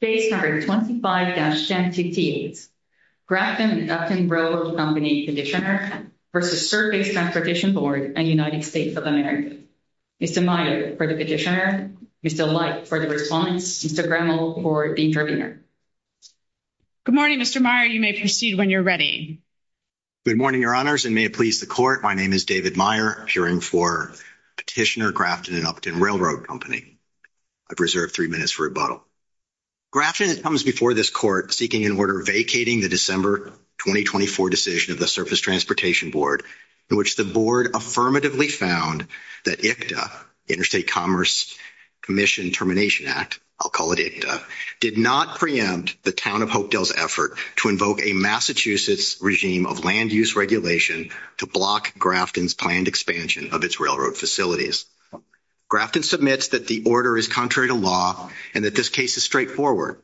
State Number 25-NTT, Grafton & Upton Railroad Company Petitioner vs. Surface Transportation Board and United States of America. Mr. Myers for the petitioner, Mr. Light for the respondent, Mr. Gremmel for the interpreter. Good morning, Mr. Myers. You may proceed when you're ready. Good morning, Your Honors, and may it please the Court, my name is David Myers, appearing for Petitioner, Grafton & Upton Railroad Company. I've reserved three minutes for a bow. Grafton comes before this Court seeking an order vacating the December 2024 decision of the Surface Transportation Board, in which the Board affirmatively found that ICTA, Interstate Commerce Commission Termination Act, I'll call it ICTA, did not preempt the Town of Hopedale's effort to invoke a Massachusetts regime of land use regulation to block Grafton's planned expansion of its railroad facilities. Grafton submits that the order is contrary to law and that this case is straightforward.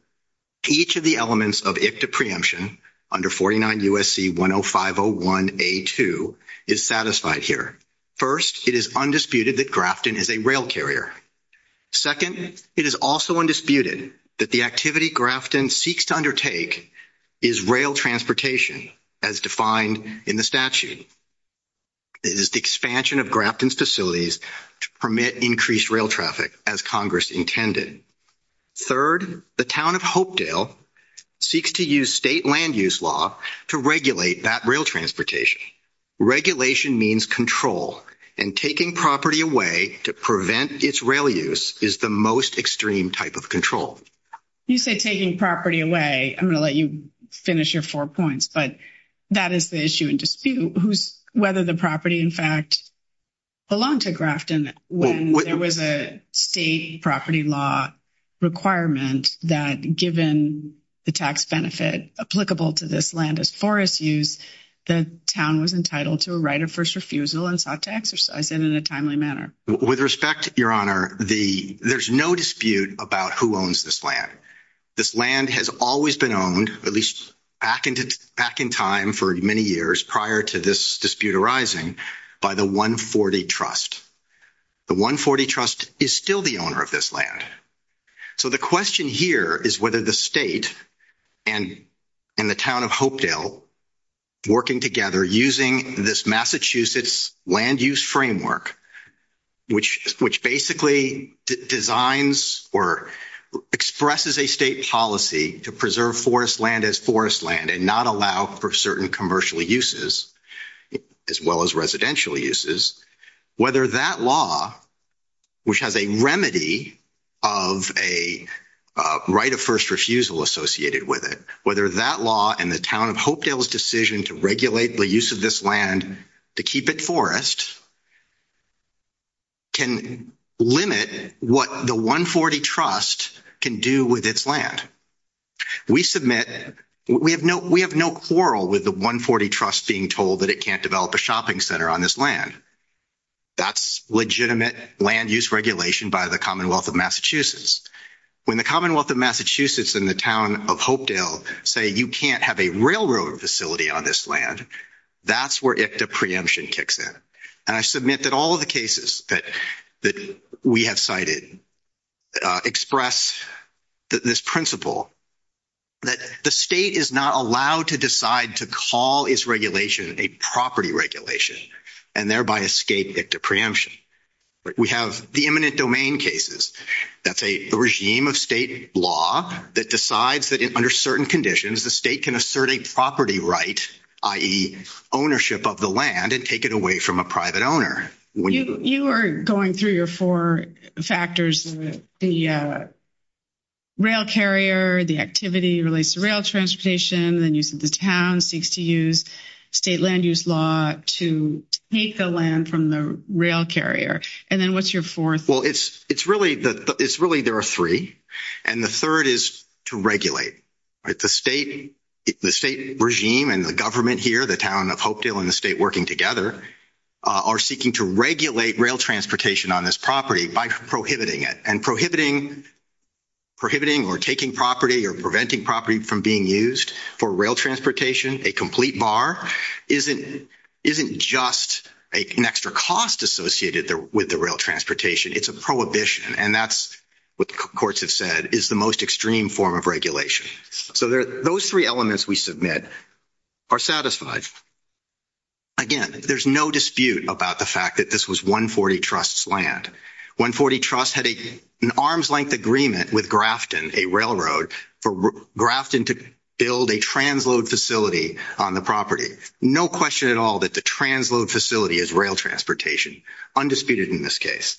Each of the elements of ICTA preemption under 49 U.S.C. 10501A2 is satisfied here. First, it is undisputed that Grafton is a rail carrier. Second, it is also undisputed that the activity Grafton seeks to undertake is rail transportation, as defined in the statute. It is the expansion of Grafton's facilities to permit increased rail traffic, as Congress intended. Third, the Town of Hopedale seeks to use state land use law to regulate that rail transportation. Regulation means control, and taking property away to prevent its rail use is the most extreme type of control. You say taking property away. I'm going to let you finish your four points. But that is the issue in dispute, whether the property, in fact, belonged to Grafton when there was a state property law requirement that, given the tax benefit applicable to this land as forest use, the Town was entitled to a right of first refusal and sought to exercise it in a timely manner. With respect, Your Honor, there's no dispute about who owns this land. This land has always been owned, at least back in time for many years prior to this dispute arising, by the 140 Trust. The 140 Trust is still the owner of this land. So the question here is whether the state and the Town of Hopedale, working together, using this Massachusetts land use framework, which basically designs or expresses a state policy to preserve forest land as forest land and not allow for certain commercial uses, as well as residential uses, whether that law, which has a remedy of a right of first refusal associated with it, whether that law and the Town of Hopedale's decision to regulate the use of this land to keep it forest can limit what the 140 Trust can do with its land. We submit, we have no quarrel with the 140 Trust being told that it can't develop a shopping center on this land. That's legitimate land use regulation by the Commonwealth of Massachusetts and the Town of Hopedale saying you can't have a railroad facility on this land. That's where ICTA preemption kicks in. And I submit that all of the cases that we have cited express this principle that the state is not allowed to decide to call its regulation a property regulation and thereby escape ICTA preemption. We have the imminent domain cases. That's a regime of state law that decides that under certain conditions, the state can assert a property right, i.e. ownership of the land and take it away from a private owner. You are going through your four factors, the rail carrier, the activity relates to rail transportation, then the town seeks to use state land use law to take the land from the rail carrier. And then what's your fourth? Well, it's really there are three. And the third is to regulate. The state regime and the government here, the Town of Hopedale and the state working together, are seeking to regulate rail transportation on this property by prohibiting it. And prohibiting or taking property or preventing property from being used for rail transportation, a complete bar, isn't just an extra cost associated with the rail transportation. It's a prohibition. And that's what the courts have said is the most extreme form of regulation. So those three elements we submit are satisfied. Again, there's no dispute about the fact that this was 140 Trust's land. 140 Trust had an arm's length agreement with a railroad for Grafton to build a transload facility on the property. No question at all that the transload facility is rail transportation. Undisputed in this case.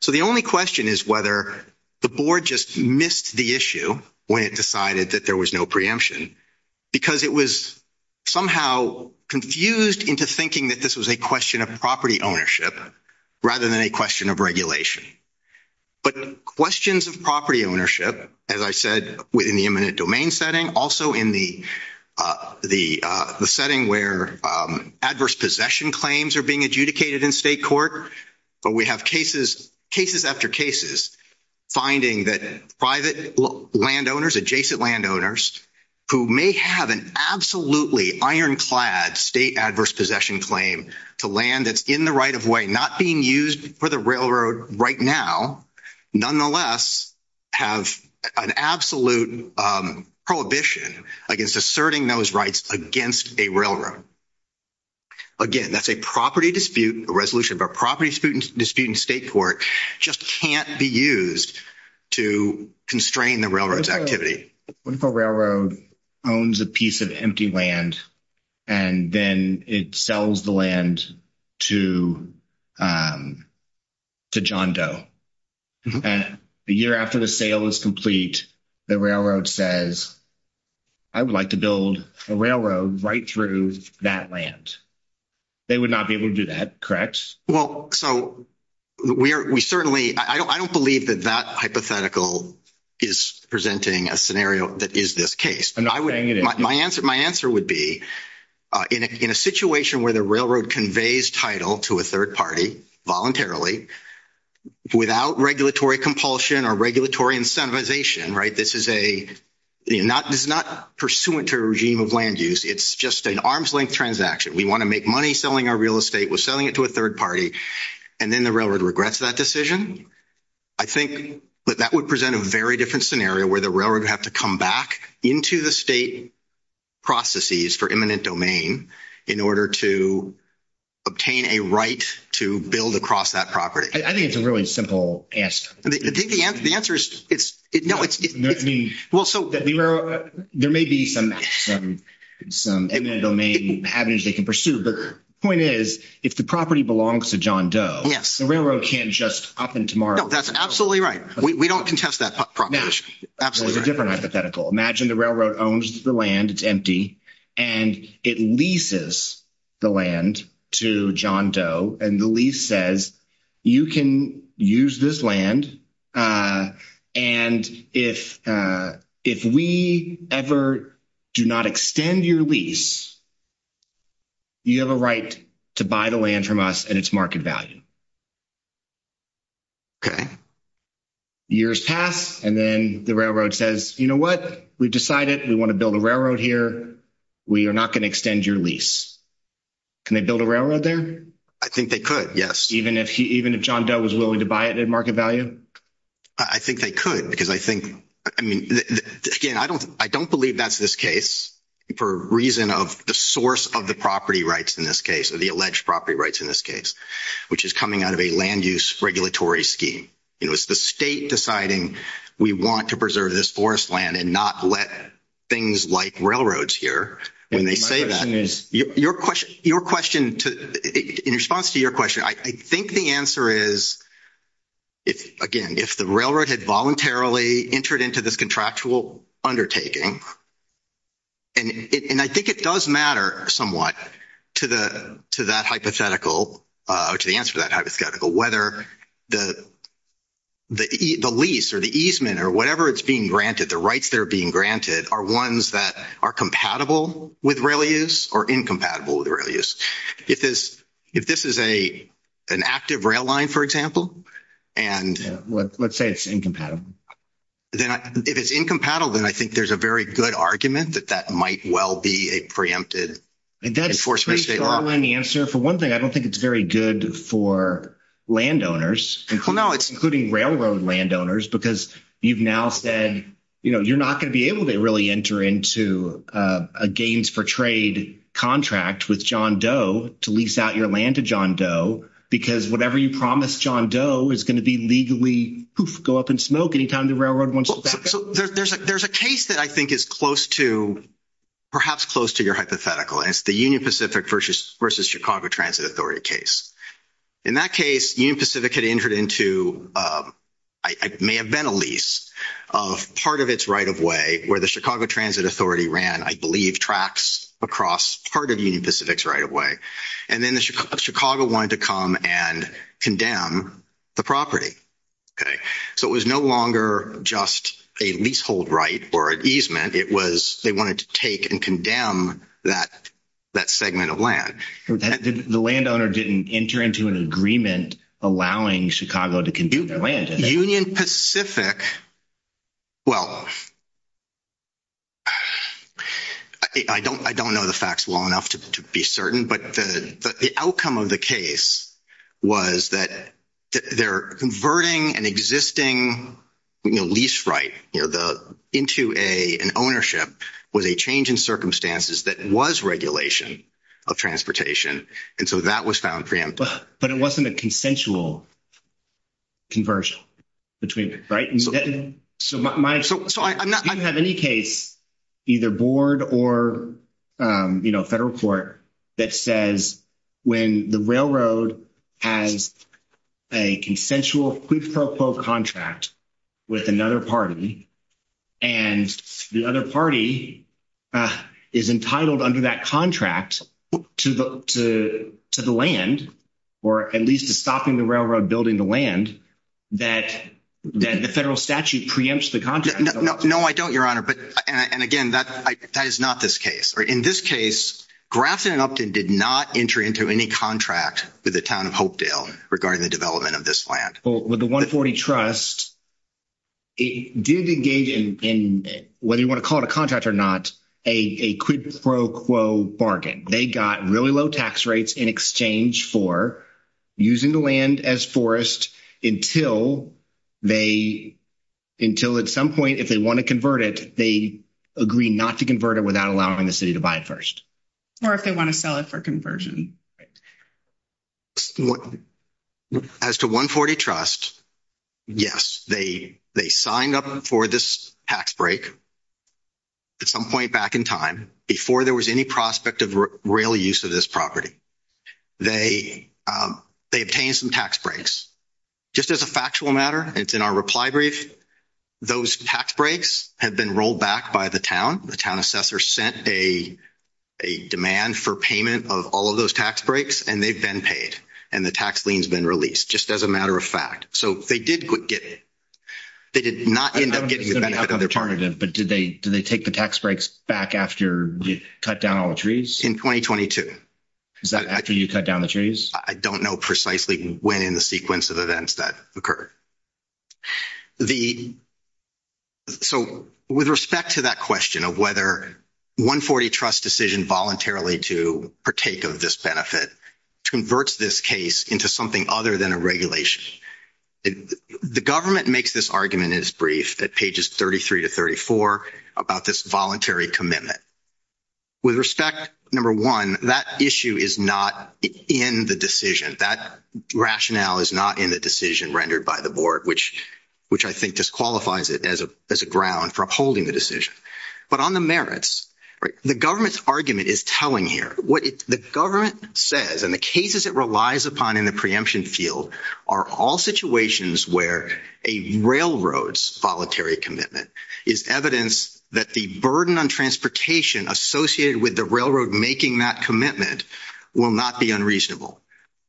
So the only question is whether the board just missed the issue when it decided that there was no preemption. Because it was somehow confused into thinking that this was a question of property ownership rather than a regulation. But questions of property ownership, as I said, within the eminent domain setting, also in the setting where adverse possession claims are being adjudicated in state court. But we have cases after cases finding that private landowners, adjacent landowners, who may have an absolutely ironclad state adverse possession claim to land that's in the right of not being used for the railroad right now, nonetheless, have an absolute prohibition against asserting those rights against a railroad. Again, that's a property dispute, a resolution of a property dispute in state court just can't be used to constrain the railroad's activity. If a railroad owns a piece of empty land and then it sells the land to to John Doe, and the year after the sale is complete, the railroad says, I would like to build a railroad right through that land. They would not be able to do that, correct? Well, so we certainly, I don't believe that that hypothetical is presenting a scenario that is this case. My answer would be, in a situation where the railroad conveys title to a third party voluntarily, without regulatory compulsion or regulatory incentivization, right, this is a not, it's not pursuant to a regime of land use. It's just an arm's length transaction. We want to make money selling our real estate. We're selling it to a third party. And then the railroad regrets that decision. I think that that would present a very different scenario where the railroad would have to come back into the state processes for eminent domain in order to obtain a right to build across that property. I think it's a really simple answer. I think the answer is, it's, no, it's, I mean, well, so there may be some some eminent domain avenues they can pursue, but the point is, if the property belongs to John Doe, yes, the railroad can't just up and tomorrow. No, that's absolutely right. We don't contest that proposition. Absolutely. It's a different hypothetical. Imagine the railroad owns the land, it's empty, and it leases the land to John Doe and the lease says, you can use this land and if we ever do not extend your lease, you have a right to buy the land from us and its market value. Okay. Years pass and then the railroad says, you know what, we've decided we want to build a railroad here, we are not going to extend your lease. Can they build a railroad there? I think they could, yes. Even if he, even if John Doe was willing to buy it at market value? I think they could because I think, I mean, again, I don't, I don't believe that's this case for reason of the source of the property rights in this case or the alleged property rights in this case, which is coming out of a land use regulatory scheme. It was the state deciding we want to preserve this forest land and not let things like railroads here. My question is, your question, in response to your question, I think the answer is, again, if the railroad had voluntarily entered into this contractual undertaking, and I think it does matter somewhat to that hypothetical, or to the answer to that easement or whatever it's being granted, the rights that are being granted are ones that are compatible with rail use or incompatible with rail use. If this, if this is an active rail line, for example, and let's say it's incompatible, then if it's incompatible, then I think there's a very good argument that that might well be a preempted. For one thing, I don't think it's very good for landowners, including railroad landowners, because you've now said, you know, you're not going to be able to really enter into a gains-for-trade contract with John Doe to lease out your land to John Doe, because whatever you promised John Doe is going to be legally, poof, go up in smoke anytime the railroad wants to step in. So there's a case that I think is close to, perhaps close to your hypothetical. It's the In that case, Union Pacific had entered into, it may have been a lease, of part of its right-of-way where the Chicago Transit Authority ran, I believe, tracks across part of Union Pacific's right-of-way. And then Chicago wanted to come and condemn the property. Okay. So it was no longer just a leasehold right or an easement. It was, they wanted to take and condemn that segment of land. And the landowner didn't enter into an agreement allowing Chicago to conduct the land. Union Pacific, well, I don't know the facts long enough to be certain, but the outcome of the case was that they're converting an existing lease right into an ownership with a change in circumstances that was regulation of transportation. And so that was found preemptive. But it wasn't a consensual conversion between, right? So, I'm not... You can have any case, either board or, you know, federal court, that says when the railroad has a consensual, quote-unquote, contract with another party, and the other party is entitled under that contract to the land, or at least to stop in the railroad building the land, that the federal statute preempts the contract. No, I don't, Your Honor. And again, that is not this case. In this case, Grafton and Upton did not enter into any contract with the town of Hopedale regarding the development of this land. Well, with the 140 Trust, it did engage in, whether you want to call it a contract or not, a quid pro quo bargain. They got really low tax rates in exchange for using the land as forest until they, until at some point, if they want to convert it, they agree not to convert it without allowing the city to buy it first. Or if they want to sell it for conversion. As to 140 Trust, yes, they signed up for this tax break at some point back in time before there was any prospect of real use of this property. They obtained some tax breaks. Just as a factual matter, it's in our reply brief, those tax breaks had been rolled back by the town. The town sent a demand for payment of all of those tax breaks, and they've been paid, and the tax lien's been released, just as a matter of fact. So they did get it. They did not end up getting it back. I'm sorry to interrupt, but did they take the tax breaks back after you cut down all the trees? In 2022. Is that after you cut down the trees? I don't know precisely when in the sequence of events that occurred. So with respect to that question of whether 140 Trust's decision voluntarily to partake of this benefit converts this case into something other than a regulation, the government makes this argument in its brief at pages 33 to 34 about this voluntary commitment. With respect, number one, that issue is not in the decision. That rationale is not in the decision rendered by the board, which I think disqualifies it as a ground for upholding the decision. But on the merits, the government's argument is telling here. What the government says and the cases it relies upon in the preemption field are all situations where a railroad's voluntary commitment is evidence that the burden on transportation associated with the railroad making that commitment will not be unreasonable.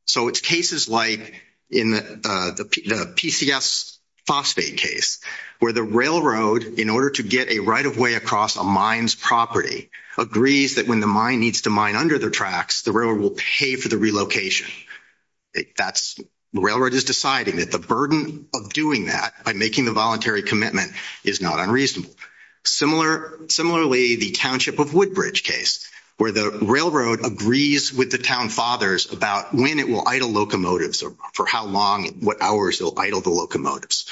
So it's cases like in the PCS phosphate case, where the railroad, in order to get a right of way across a mine's property, agrees that when the mine needs to mine under their tracks, the railroad will pay for the relocation. The railroad has decided that the burden of doing that by making a voluntary commitment is not unreasonable. Similarly, the Township of Woodbridge case, where the railroad agrees with the town fathers about when it will idle locomotives or for how long, what hours they'll idle the locomotives.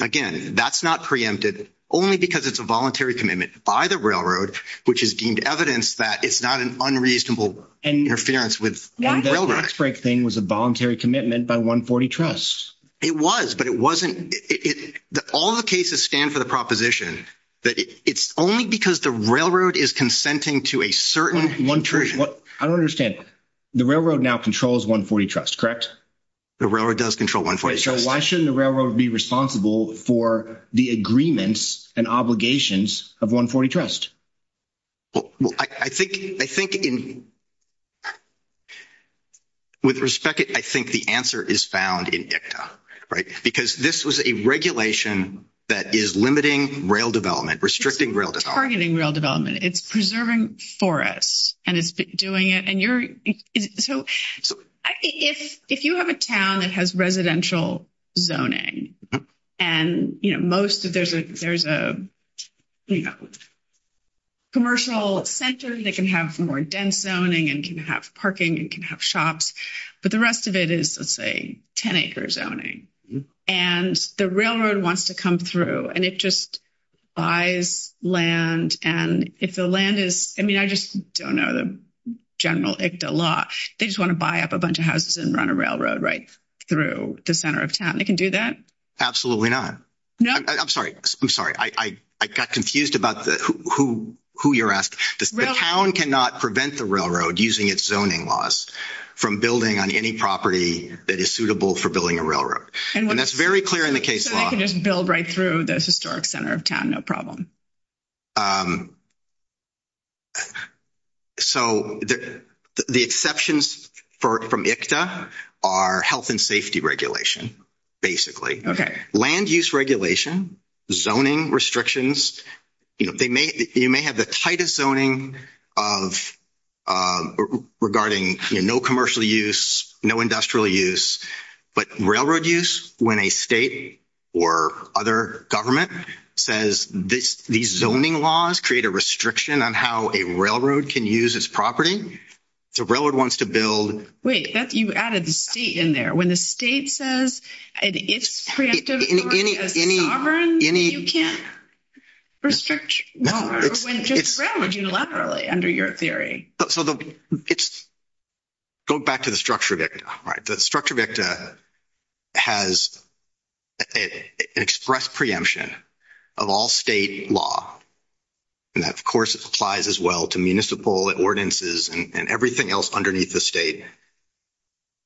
Again, that's not preempted only because it's a voluntary commitment by the railroad, which is deemed evidence that it's not an unreasonable interference with the railroad. The tax break thing was a voluntary commitment by 140 Trusts. It was, but it wasn't. All the cases stand for the proposition that it's only because the railroad is consenting to a certain- I don't understand. The railroad now controls 140 Trusts, correct? The railroad does control 140 Trusts. Why shouldn't the railroad be responsible for the agreements and obligations of 140 Trusts? Well, I think with respect, I think the answer is found in DICTA, right? Because this was a regulation that is limiting rail development, restricting rail development. It's targeting rail development. It's preserving forests, and it's doing it. If you have a town that has residential zoning, and there's a commercial center that can have more dense zoning, and can have parking, and can have shops, but the rest of it is, let's say, 10-acre zoning. And the railroad wants to come through, and it just buys land. And if the land is- I mean, I just don't know the general ICTA law. They just want to buy up a bunch of houses and run a railroad right through the center of town. They can do that? Absolutely not. No? I'm sorry. I got confused about who you're asking. The town cannot prevent the railroad using its zoning laws from building on any property that is suitable for building a railroad. And that's very clear in the case law. They can just build right through the historic center of town, no problem. Okay. So the exceptions from ICTA are health and safety regulation, basically. Land use regulation, zoning restrictions. You know, you may have the tightest zoning regarding no commercial use, no industrial use. But railroad use, when a state or other says these zoning laws create a restriction on how a railroad can use its property, the railroad wants to build- Wait. You added the state in there. When the state says it's preemptive, you can't restrict the railroad unilaterally under your theory. It's going back to the structure of ICTA, right? The structure of ICTA has expressed preemption of all state law. And of course, it applies as well to municipal ordinances and everything else underneath the state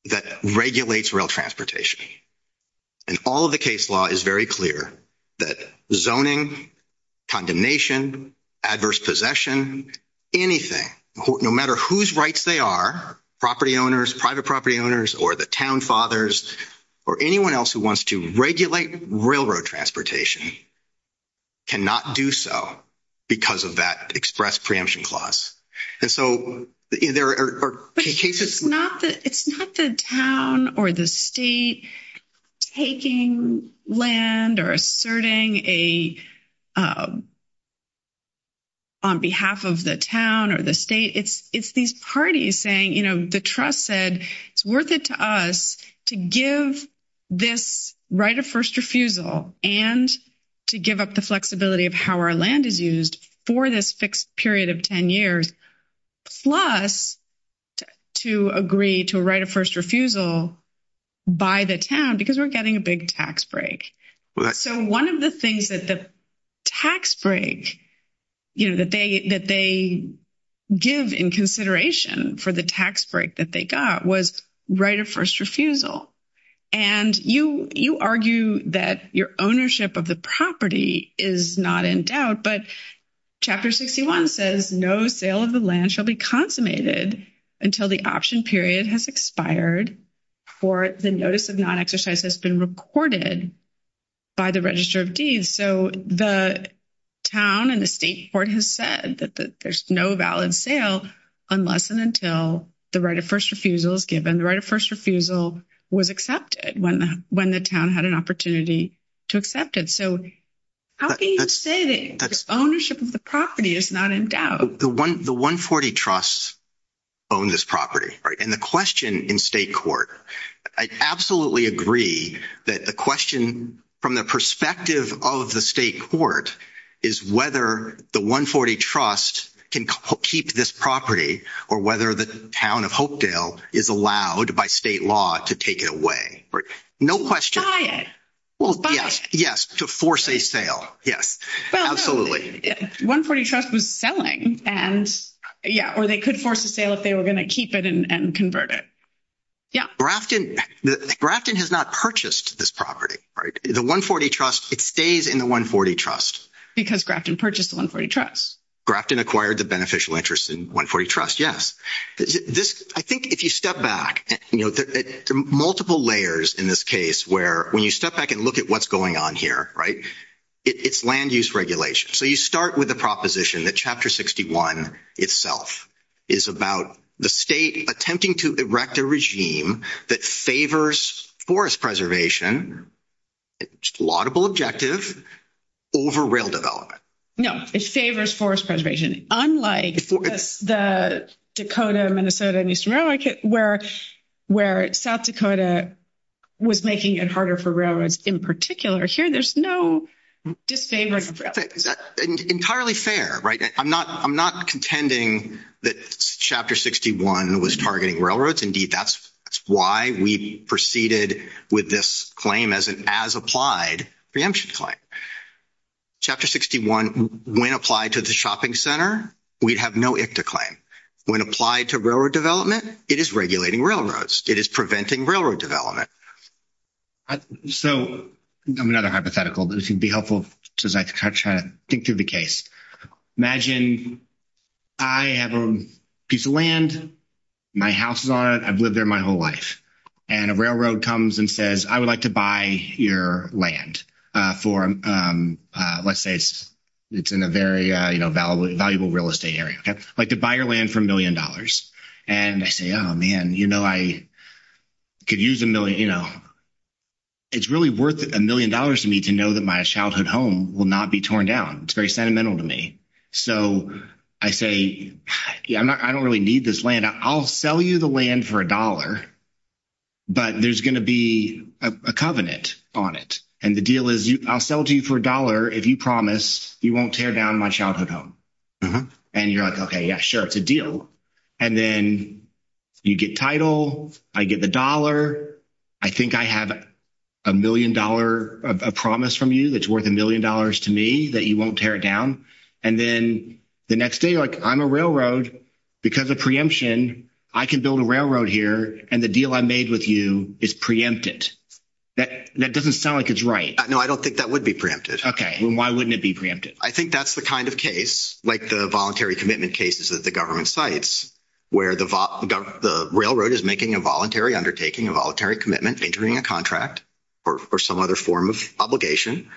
that regulates rail transportation. And all of the case law is very clear that zoning, condemnation, adverse possession, anything, no matter whose rights they are, property owners, private property owners, or the town fathers, or anyone else who wants to regulate railroad transportation, cannot do so because of that expressed preemption clause. And so there are cases- It's not the town or the state taking land or asserting a- on behalf of the town or the state. It's these parties saying, you know, the trust said, it's worth it to us to give this right of first refusal and to give up the flexibility of how land is used for this fixed period of 10 years, plus to agree to right of first refusal by the town because we're getting a big tax break. So one of the things that the tax break, you know, that they give in consideration for the tax break that they got was right of first refusal. But chapter 61 says no sale of the land shall be consummated until the option period has expired or the notice of non-exercise has been recorded by the register of deeds. So the town and the state board has said that there's no valid sale unless and until the right of first refusal is given. The right of first refusal was accepted when the town had an opportunity to accept it. How do you say this? Ownership of the property is not endowed. The 140 trusts own this property, right? And the question in state court, I absolutely agree that the question from the perspective of the state court is whether the 140 trust can keep this property or whether the town of Hopedale is allowed by state law to take it away, right? Buy it. Yes, to force a sale. Yes, absolutely. 140 trust was selling and, yeah, or they could force a sale if they were going to keep it and convert it. Yeah. Grafton has not purchased this property, right? The 140 trust, it stays in the 140 trust. Because Grafton purchased the 140 trust. Grafton acquired the beneficial interest in 140 trust, yes. I think if you step back, you know, multiple layers in this case where when you step back and look at what's going on here, right, it's land use regulation. So you start with the proposition that chapter 61 itself is about the state attempting to erect a regime that favors forest preservation, laudable objective, over rail development. No, it favors forest preservation, unlike the Dakota, Minnesota, and Eastern Railroad, where South Dakota was making it harder for railroads in particular. Here, there's no disfavor. Entirely fair, right? I'm not contending that chapter 61 was targeting railroads. Indeed, that's why we proceeded with this claim as an as-applied preemption claim. Chapter 61, when applied to the shopping center, we have no if to claim. When applied to railroad development, it is regulating railroads. It is preventing railroad development. So another hypothetical, this would be helpful, because I can kind of try to think through the case. Imagine I have a piece of land, my house is on it, I've lived there my whole life. And a railroad comes and says, I would like to buy your land for, let's say, it's in a very, valuable real estate area. I'd like to buy your land for a million dollars. And I say, oh, man, you know, I could use a million, you know, it's really worth a million dollars to me to know that my childhood home will not be torn down. It's very sentimental to me. So I say, I don't really need this land. I'll sell you the land for a dollar, but there's going to be a covenant on it. And the deal is, I'll sell it to you for a dollar if you promise you won't tear down my childhood home. And you're like, okay, yeah, sure, it's a deal. And then you get title, I get the dollar, I think I have a million-dollar promise from you that's worth a million dollars to me that you won't tear down. And then the next day, like, I'm a railroad, because of preemption, I can build a railroad here, and the deal I made with you is preempted. That doesn't sound like it's right. No, I don't think that would be preempted. Okay. Why wouldn't it be preempted? I think that's the kind of case, like the voluntary commitment cases that the government cites, where the railroad is making a voluntary undertaking, a voluntary commitment, entering a contract, or some other form of obligation.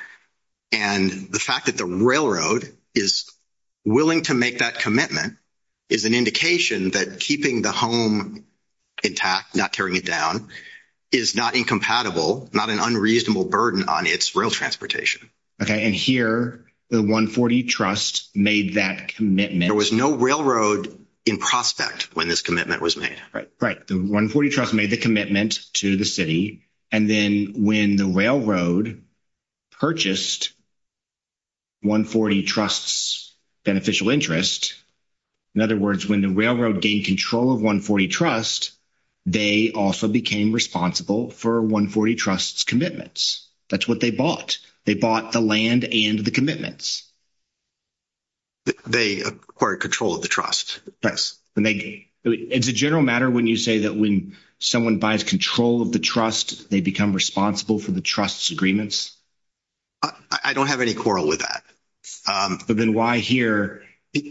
And the fact that the railroad is willing to make that commitment is an indication that keeping the home intact, not tearing it down, is not incompatible, not an unreasonable burden on its rail transportation. Okay. And here, the 140 Trust made that commitment. There was no railroad in prospect when this commitment was made. Right. The 140 Trust made the commitment to the city. And then when the railroad purchased 140 Trust's beneficial interest, in other words, when the railroad gained control of 140 Trust, they also became responsible for 140 Trust's commitments. That's what they bought. They bought the land and the commitments. They acquired control of the Trust. Yes. It's a general matter when you say that when someone buys control of the Trust, they become responsible for the Trust's agreements? I don't have any quarrel with that. But then why here,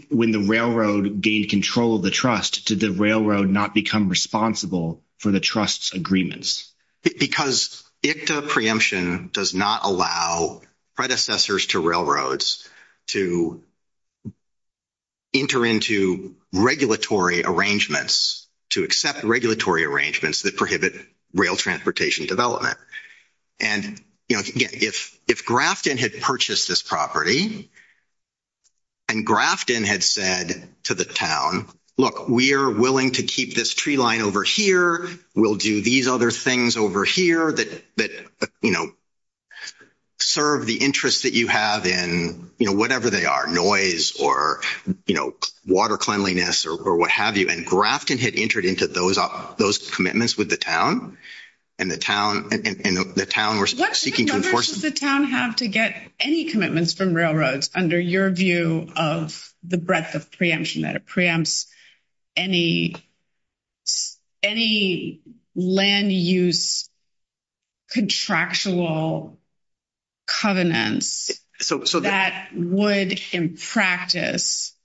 when the railroad gained control of the Trust, did the railroad not become responsible for the Trust's agreements? Because ICTA preemption does not allow predecessors to railroads to enter into regulatory arrangements, to accept regulatory arrangements that prohibit rail transportation development. And if Grafton had purchased this property, and Grafton had said to the town, look, we are willing to keep this tree line over here. We'll do these other things over here that, you know, serve the interest that you have in, you know, whatever they are, noise or, you know, water cleanliness or what have you. And Grafton had entered into those commitments with the town. And the town was seeking... Does the town have to get any commitments from railroads under your view of the breadth of preemption that it preempts any land use contractual covenants that would in practice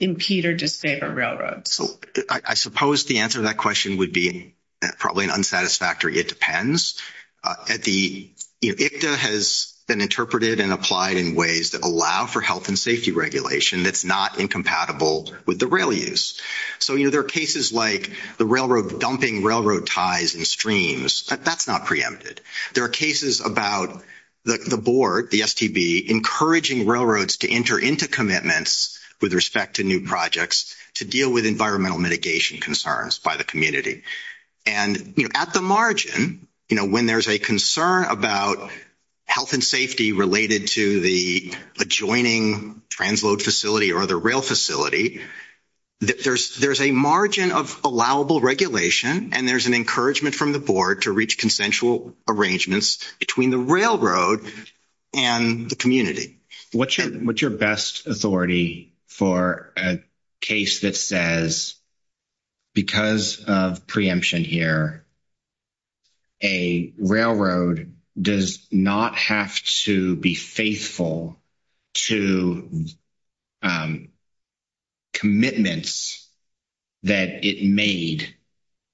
impede or disable railroads? I suppose the answer to that question would be probably an unsatisfactory it depends. At the, you know, ICTA has been interpreted and applied in ways that allow for health and safety regulation that's not incompatible with the rail use. So, you know, there are cases like the railroad dumping railroad ties and streams, but that's not preempted. There are cases about the board, the STB, encouraging railroads to enter into commitments with respect to new projects to deal with environmental mitigation concerns by the And, you know, at the margin, you know, when there's a concern about health and safety related to the adjoining transload facility or the rail facility, there's a margin of allowable regulation and there's an encouragement from the board to reach consensual arrangements between the railroad and the community. What's your best authority for a case that says because of preemption here, a railroad does not have to be faithful to commitments that it made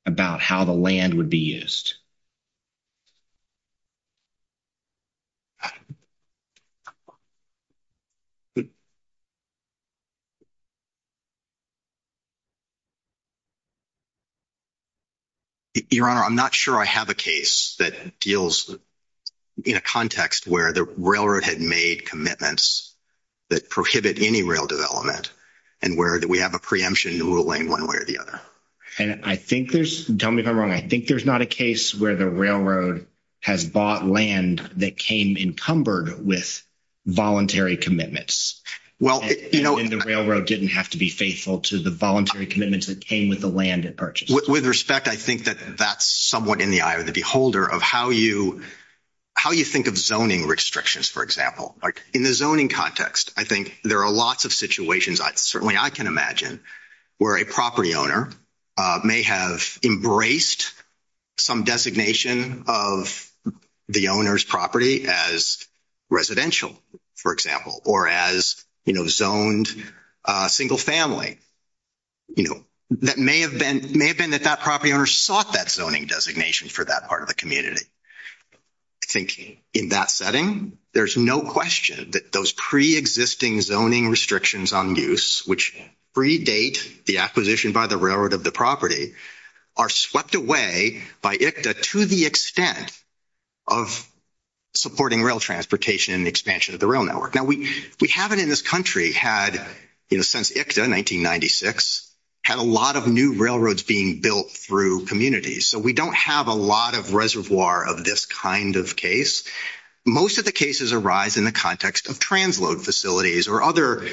about how the land would be used? But your honor, I'm not sure I have a case that deals in a context where the railroad had made commitments that prohibit any real development and where do we have a preemption in one way or the other? And I think there's tell me if I'm wrong. I think there's not a case where the railroad has bought land that came encumbered with voluntary commitments. Well, you know, and the railroad didn't have to be faithful to the voluntary commitments that came with the land at purchase. With respect, I think that that's somewhat in the eye of the beholder of how you think of zoning restrictions, for example. Like in the zoning context, I think there are lots of situations, certainly I can imagine, where a property owner may have embraced some designation of the owner's property as residential, for example, or as, you know, zoned single family. You know, that may have been that that property owner sought that zoning designation for that part of the community. I think in that setting, there's no question that those preexisting zoning restrictions on use, which predate the acquisition by the railroad of the property, are swept away by ICTA to the extent of supporting rail transportation and expansion of the rail network. Now, we haven't in this country had, you know, since ICTA 1996, had a lot of new railroads being built through communities. So we don't have a lot of reservoir of this kind of case. Most of the cases arise in the context of transload facilities or other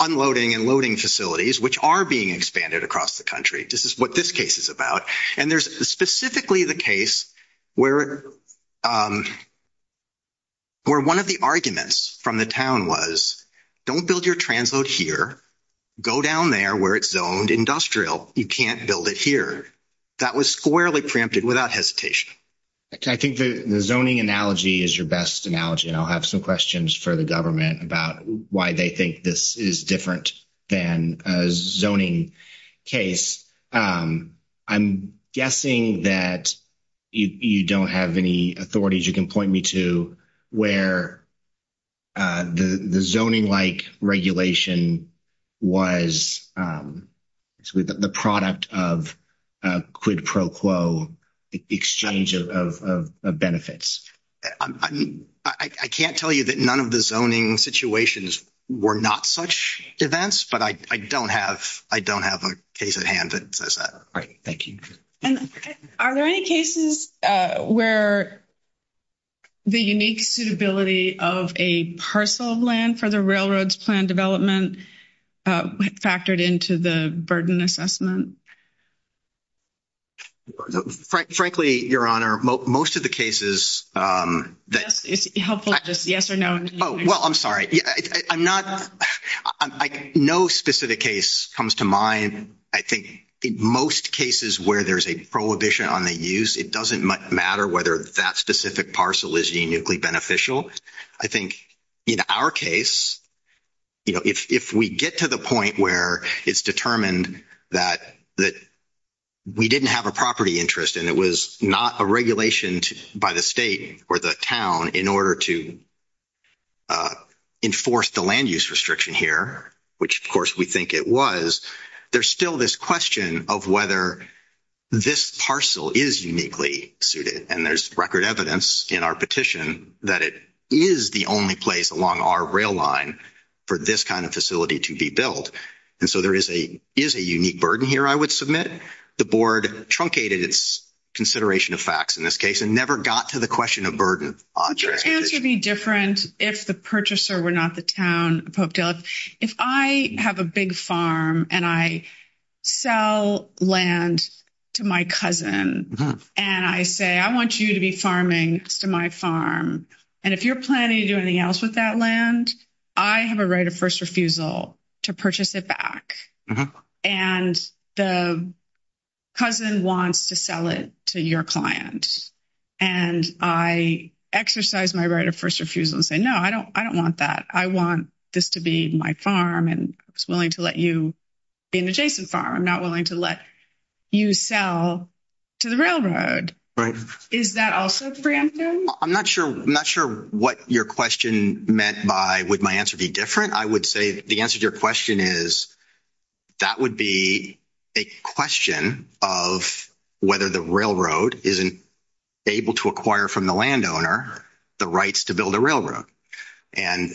unloading and loading facilities, which are being expanded across the country. This is what this case is about. And there's specifically the case where one of the arguments from the town was, don't build your transload here. Go down there where it's zoned industrial. You can't build it here. That was squarely preempted without hesitation. I think the zoning analogy is your best analogy. I'll have some questions for the government about why they think this is different than a zoning case. I'm guessing that you don't have any authorities you can point me to where the zoning-like regulation was actually the product of quid pro quo exchange of benefits. I mean, I can't tell you that none of the zoning situations were not such events, but I don't have a case at hand that says that. Right. Thank you. And are there any cases where the unique suitability of a parcel of land for railroads plan development factored into the burden assessment? Frankly, Your Honor, most of the cases... It's helpful just yes or no. Well, I'm sorry. No specific case comes to mind. I think in most cases where there's a prohibition on the use, it doesn't matter whether that specific parcel is uniquely beneficial. I think in our case, if we get to the point where it's determined that we didn't have a property interest and it was not a regulation by the state or the town in order to enforce the land use restriction here, which of course we think it was, there's still this question of whether this parcel is uniquely suited. And there's record evidence in our petition that it is the only place along our rail line for this kind of facility to be built. And so there is a unique burden here I would submit. The board truncated its consideration of facts in this case and never got to the question of burden. It tends to be different if the purchaser were not the town if I have a big farm and I sell land to my cousin and I say, I want you to be farming to my farm. And if you're planning to do anything else with that land, I have a right of first refusal to purchase it back. And the cousin wants to sell it to your client. And I exercise my right of refusal to say, no, I don't want that. I want this to be my farm and I'm willing to let you be an adjacent farm. I'm not willing to let you sell to the railroad. Is that also preemptive? I'm not sure what your question meant by would my answer be different. I would say the answer to your question is that would be a question of whether the railroad isn't able to acquire from landowner the rights to build a railroad. And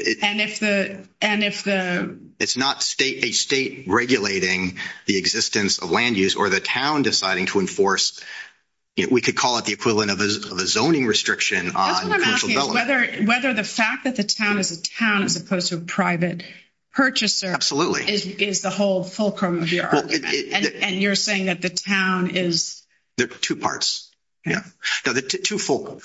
it's not a state regulating the existence of land use or the town deciding to enforce, we could call it the equivalent of a zoning restriction. Whether the fact that the town is a town as opposed to a private purchaser is the whole fulcrum of your argument. And you're saying that the town is... There are two parts. Yeah. Now the two fulcrum.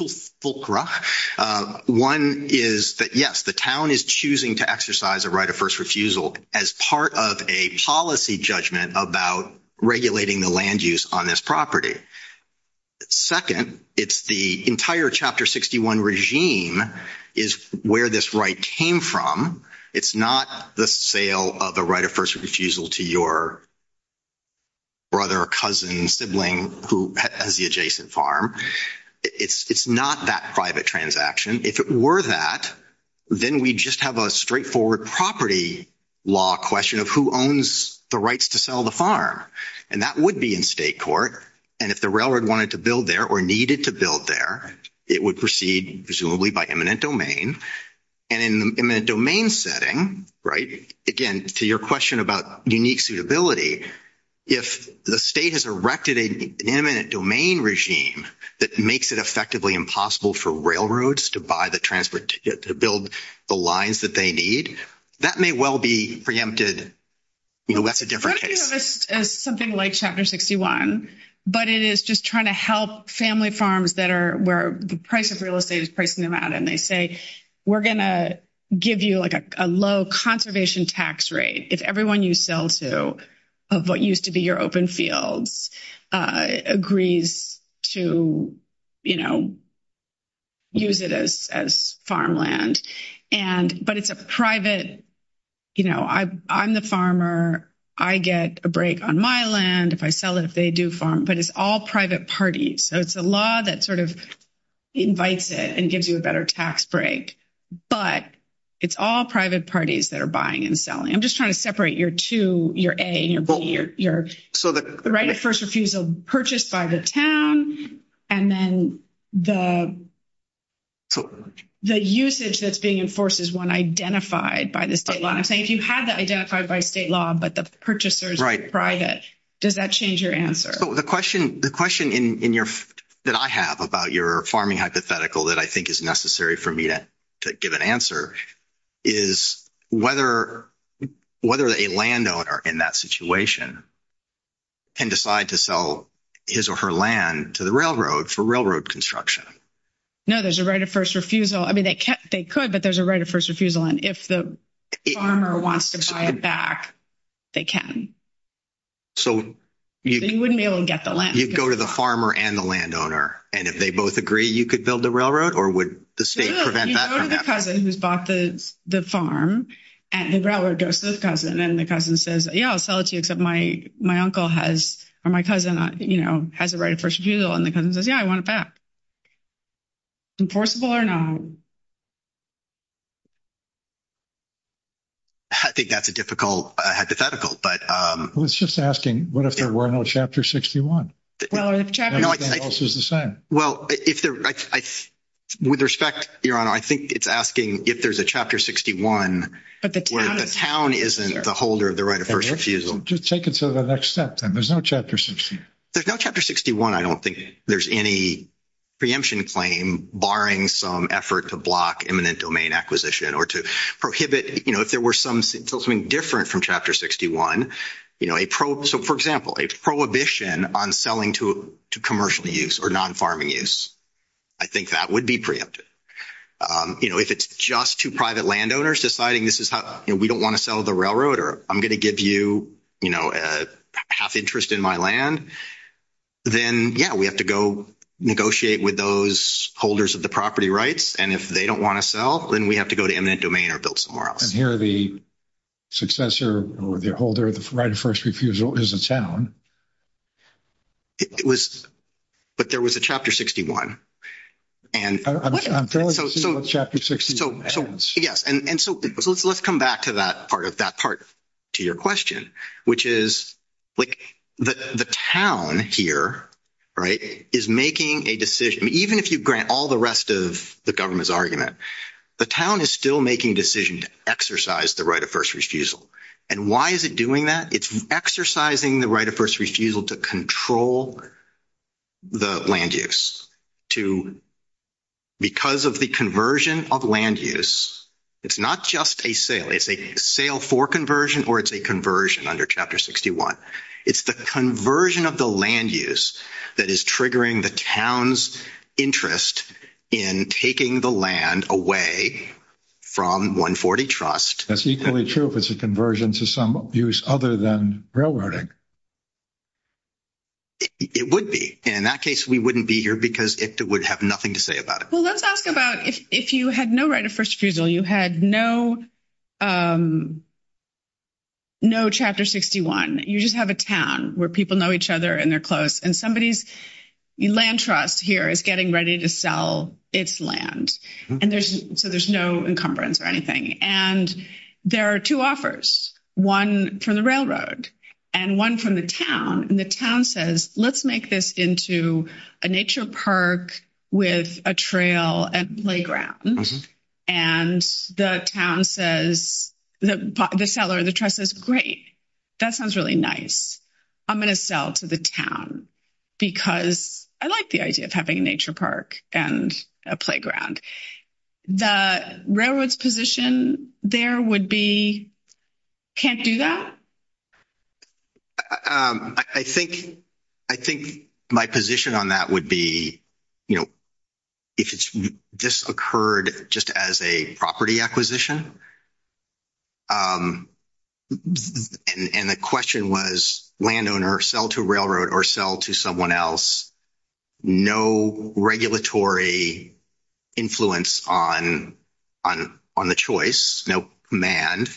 One is that, yes, the town is choosing to exercise a right of first refusal as part of a policy judgment about regulating the land use on this property. Second, it's the entire Chapter 61 regime is where this right came from. It's not the sale of a right of first refusal to your brother or cousin, sibling who has the adjacent farm. It's not that private transaction. If it were that, then we'd just have a straightforward property law question of who owns the rights to sell the farm. And that would be in state court. And if the railroad wanted to build there or needed to build there, it would proceed presumably by eminent domain. And in an eminent domain setting, again, to your question about unique suitability, if the state has erected an eminent domain regime that makes it effectively impossible for railroads to buy the transport ticket to build the lines that they need, that may well be preempted. That's a different case. Something like Chapter 61, but it is just trying to help family farms that are where the price of real estate is pricing them out. And they say, we're going to give you like a low conservation tax rate if everyone you sell to of what used to be your open fields agrees to, you know, use it as farmland. And but it's a private, you know, I'm the farmer. I get a break on my land if I sell it, if they do farm. But it's all private parties. So it's a law that sort of invites it and gives you a better tax break. But it's all private parties that are buying and selling. I'm just trying to separate your two, your A and your B, your right of first refusal purchased by the town. And then the usage that's being enforced is one identified by the state law. I think you have that identified by state law, but the purchasers are private. Does that change your answer? The question that I have about your farming hypothetical that I think is necessary for me to give an answer is whether a landowner in that situation can decide to sell his or her land to the railroad for railroad construction. No, there's a right of first refusal. I mean, they could, but there's a right of first refusal. And if the farmer wants to buy it back, they can. So you wouldn't be able to get the land. You'd go to the farmer and the landowner. And if they both agree, you could build the railroad or would the state prevent that from happening? You go to the cousin who's bought the farm, and the railroad goes to his cousin. And the cousin says, yeah, I'll sell it to you, except my uncle has, or my cousin, you know, has a right of first refusal. And the cousin says, yeah, I want it back. Enforceable or not? I think that's a difficult hypothetical, but... Well, it's just asking, what if there were no Chapter 61? Well, with respect, Your Honor, I think it's asking if there's a Chapter 61 where the town isn't the holder of the right of first refusal. Just take it to the next step, then. There's no Chapter 61. There's no Chapter 61. I don't think there's any preemption claim barring some effort to block eminent domain acquisition or to prohibit, you know, if there were something different from Chapter 61, you know, a pro... So, for example, a prohibition on selling to commercial use or non-farming use, I think that would be preempted. You know, if it's just two private landowners deciding this is how we don't want to sell the railroad, or I'm going to give you, you know, half interest in my land, then, yeah, we have to go negotiate with those holders of the property rights, and if they don't want to sell, then we have to go to eminent domain or build some more. And here the successor or the holder of the right of first refusal is the town. It was, but there was a Chapter 61, and... I'm fairly certain there was a Chapter 61. Yes, and so let's come back to that part of that part to your question, which is, like, the town here, right, is making a decision. Even if you grant all the rest of the government's argument, the town is still making a decision to exercise the right of first refusal. And why is it doing that? It's exercising the right of first refusal to control the land use. Because of the conversion of land use, it's not just a sale. It's a sale for conversion, or it's a conversion under Chapter 61. It's the conversion of the land use that is triggering the town's interest in taking the land away from 140 Trust. That's equally true if it's a conversion to some use other than railroading. It would be. In that case, we wouldn't be here because it would have nothing to say about it. Let's talk about if you had no right of first refusal, you had no Chapter 61, you just have a town where people know each other and they're close, and somebody's land trust here is getting ready to sell its land. And so there's no encumbrance or anything. And there are two offers, one from the railroad and one from the town. And the town says, let's make this into a nature park with a trail and playground. And the town says, the seller, the trust is great. That sounds really nice. I'm going to sell to the town. Because I like the idea of having a nature park and a playground. The railroad's position there would be can't do that. I think, I think my position on that would be, you know, if it's just occurred, just as a property acquisition. And the question was, landowner sell to railroad or sell to someone else. No regulatory influence on the choice, no command,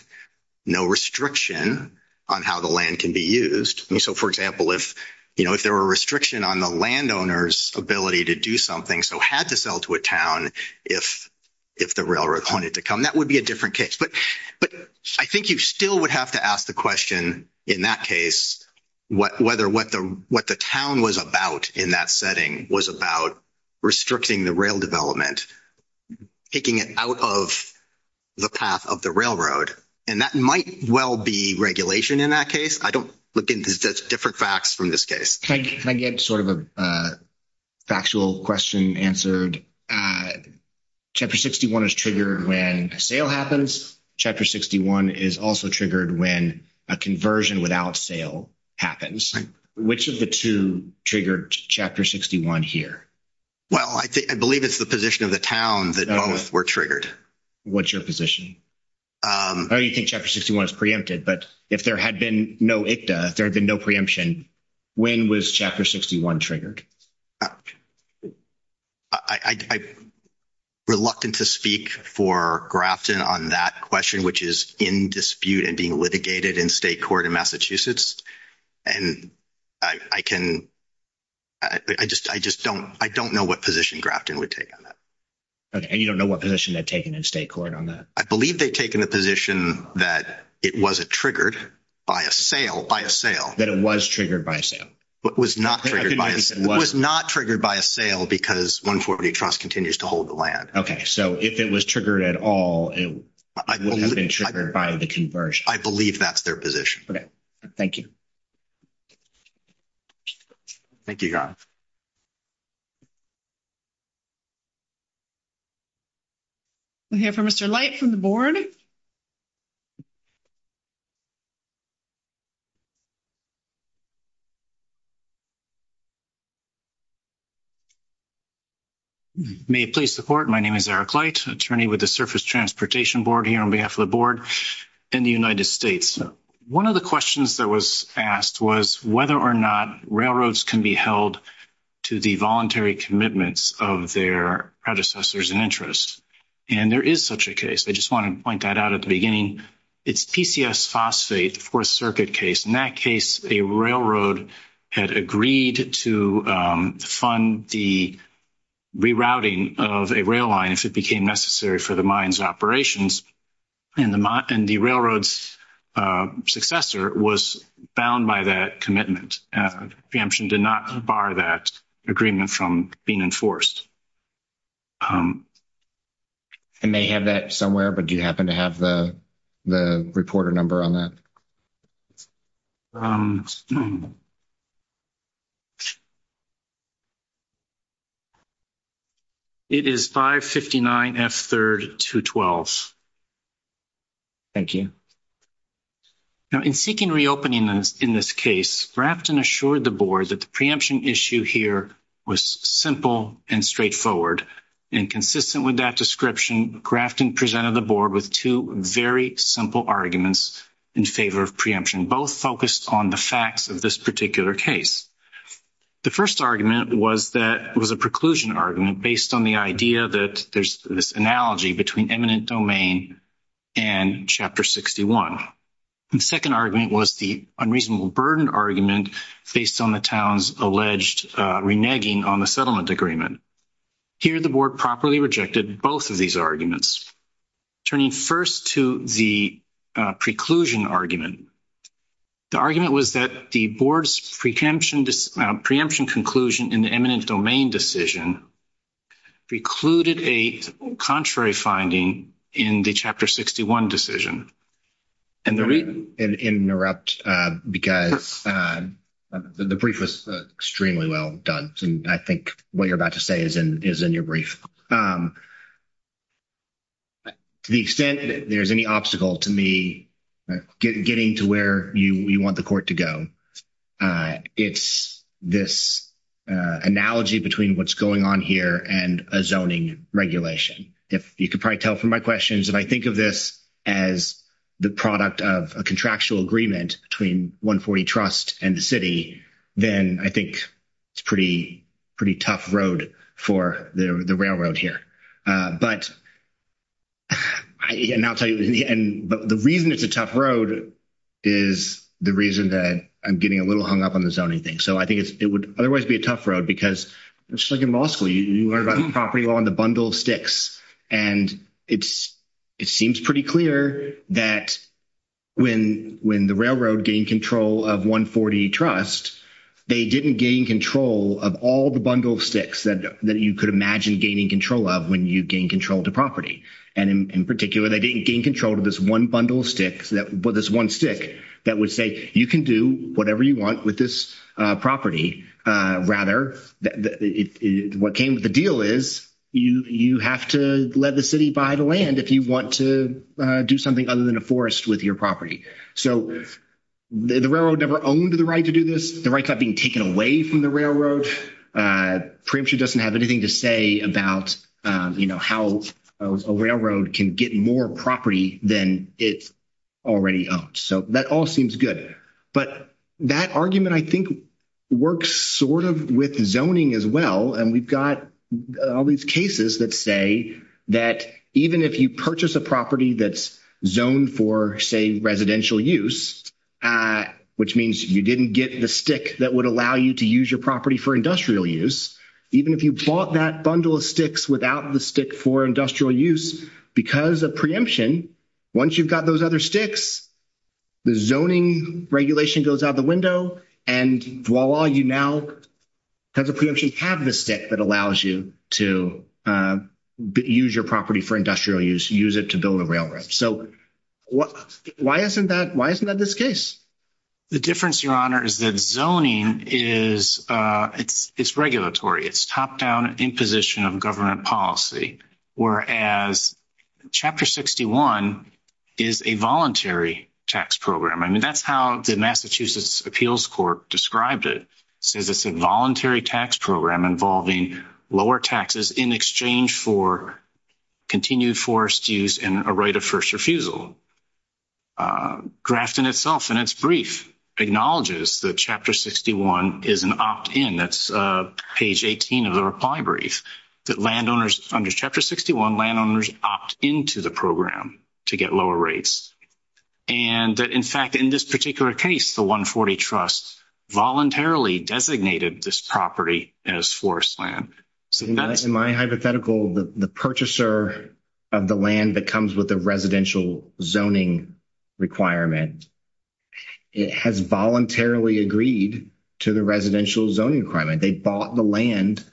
no restriction on how the land can be used. So for example, if, you know, if there were a restriction on the landowner's ability to do something, so had to sell to a town, if the railroad wanted to come, that would be a different case. But I think you still would have to ask the question, in that case, whether what the town was about in that setting was about restricting the rail development, taking it out of the path of the railroad. And that might well be regulation in that case. I don't look into different facts from this case. Can I get sort of a factual question answered? Chapter 61 is triggered when sale happens. Chapter 61 is also triggered when a conversion without sale happens. Which of the two triggered Chapter 61 here? Well, I believe it's the position of the town that both were triggered. What's your position? Oh, you think Chapter 61 is preempted. But if there had been no ICTA, there had been no preemption, when was Chapter 61 triggered? I'm reluctant to speak for Grafton on that question, which is in dispute and being litigated in state court in Massachusetts. And I can, I just don't, I don't know what position Grafton would take on that. Okay, and you don't know what position they've taken in state court on that? I believe they've taken the position that it wasn't triggered by a sale, by a sale. That it was triggered by a sale? It was not triggered by a sale because 140 Trust continues to hold the land. Okay, so if it was triggered at all, it wouldn't have been triggered by the conversion. I believe that's their position. Okay, thank you. Thank you, Garth. We'll hear from Mr. Light from the board. May it please the court, my name is Eric Light, attorney with the Surface Transportation Board here on behalf of the board in the United States. One of the questions that was asked was whether or not railroads can be held to the voluntary commitments of their predecessors and interests. And there is such a case. I just want to point that out at the beginning. It's PCS phosphate fourth circuit case. In that case, a railroad had agreed to fund the rerouting of a railroads operations and the railroad's successor was bound by that commitment. The exemption did not bar that agreement from being enforced. I may have that somewhere, but do you happen to have the reporter number on that? It is 559F3212. Thank you. Now, in seeking reopening in this case, Grafton assured the board that the preemption issue here was simple and straightforward. And consistent with that description, Grafton presented the board with two very simple arguments in favor of preemption, both focused on the facts of this particular case. The first argument was that it was a preclusion argument based on the idea that there's this analogy between eminent domain and chapter 61. The second argument was the unreasonable burden argument based on the town's alleged reneging on the settlement agreement. Here, the board properly rejected both of these arguments. Turning first to the preclusion argument, the argument was that the board's preemption conclusion in the eminent domain decision precluded a contrary finding in the chapter 61 decision. And the reason- Interrupt, because the brief was extremely well done, and I think what you're about to say is in your brief. To the extent that there's any obstacle to me getting to where you want the court to go, it's this analogy between what's going on here and a zoning regulation. You could probably tell from my questions, if I think of this as the product of a contractual agreement between 140 Trust and the city, then I think it's a pretty tough road for the railroad here. But the reason it's a tough road is the reason that I'm getting a little hung up on the zoning thing. So I think it would otherwise be a tough road, because it's like in law school. You learn about the property on the bundle of sticks. And it seems pretty clear that when the railroad gained control of 140 Trust, they didn't gain control of all the bundle of sticks that you could imagine gaining control of when you gain control of the property. And in particular, they didn't gain control of this one bundle of sticks, this one stick that would say, you can do whatever you want with this property. Rather, what came to the deal is, you have to let the city buy the land if you want to do something other than a forest with your property. So the railroad never owned the right to do this. The right's not being taken away from the railroad. Preemption doesn't have anything to say about, you know, how a railroad can get more property than it's already owned. So that all seems good. But that argument, I think, works sort of with zoning as well. And we've got all these cases that say that even if you purchase a property that's zoned for, say, residential use, which means you didn't get the stick that would allow you to use your property for industrial use, even if you bought that bundle of sticks without the stick for industrial use, because of preemption, once you've got those other sticks, the zoning regulation goes out the window. And voila, you now have the preemption cabinet stick that allows you to use your property for industrial use, use it to build a railroad. So why isn't that this case? The difference, Your Honor, is that zoning is, it's regulatory. It's top-down imposition of government policy, whereas Chapter 61 is a voluntary tax program. I mean, that's how the Massachusetts Appeals Court described it, says it's a voluntary tax program involving lower taxes in exchange for continued forest use and a right of first refusal. Grafton itself, in its brief, acknowledges that Chapter 61 is an opt-in. That's page 18 of the reply brief, that landowners under Chapter 61, landowners opt into the program to get lower rates. And that, in fact, in this particular case, the 140 Trust voluntarily designated this property as forest land. In my hypothetical, the purchaser of the land that comes with the residential zoning requirement, it has voluntarily agreed to the residential zoning requirement. They bought the land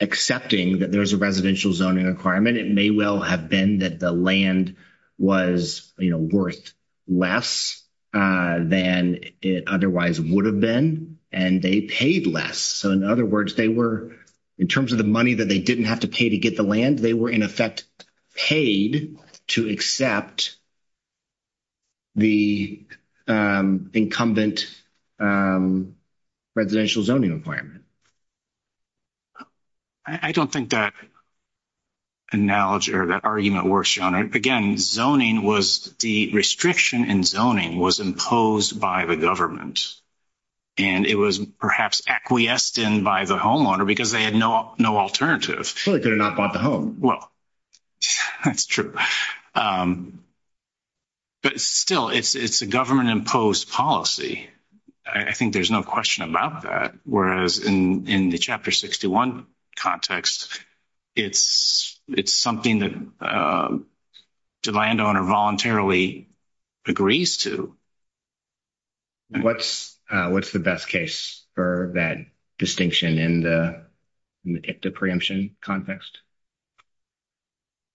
accepting that there's a residential zoning requirement. It may well have been that the land was, you know, worth less than it otherwise would have been, and they paid less. So, in other words, they were, in terms of the money that they didn't have to pay to get the land, they were, in effect, paid to accept the incumbent residential zoning requirement. I don't think that analogy or that argument were shown. Again, zoning was the restriction in zoning was imposed by the government. And it was perhaps acquiesced in by the homeowner because they had no alternative. They could have not bought the home. Well, that's true. But still, it's a government-imposed policy. I think there's no question about that. Whereas, in the Chapter 61 context, it's something that the landowner voluntarily agrees to. And what's the best case for that distinction in the dicta preemption context?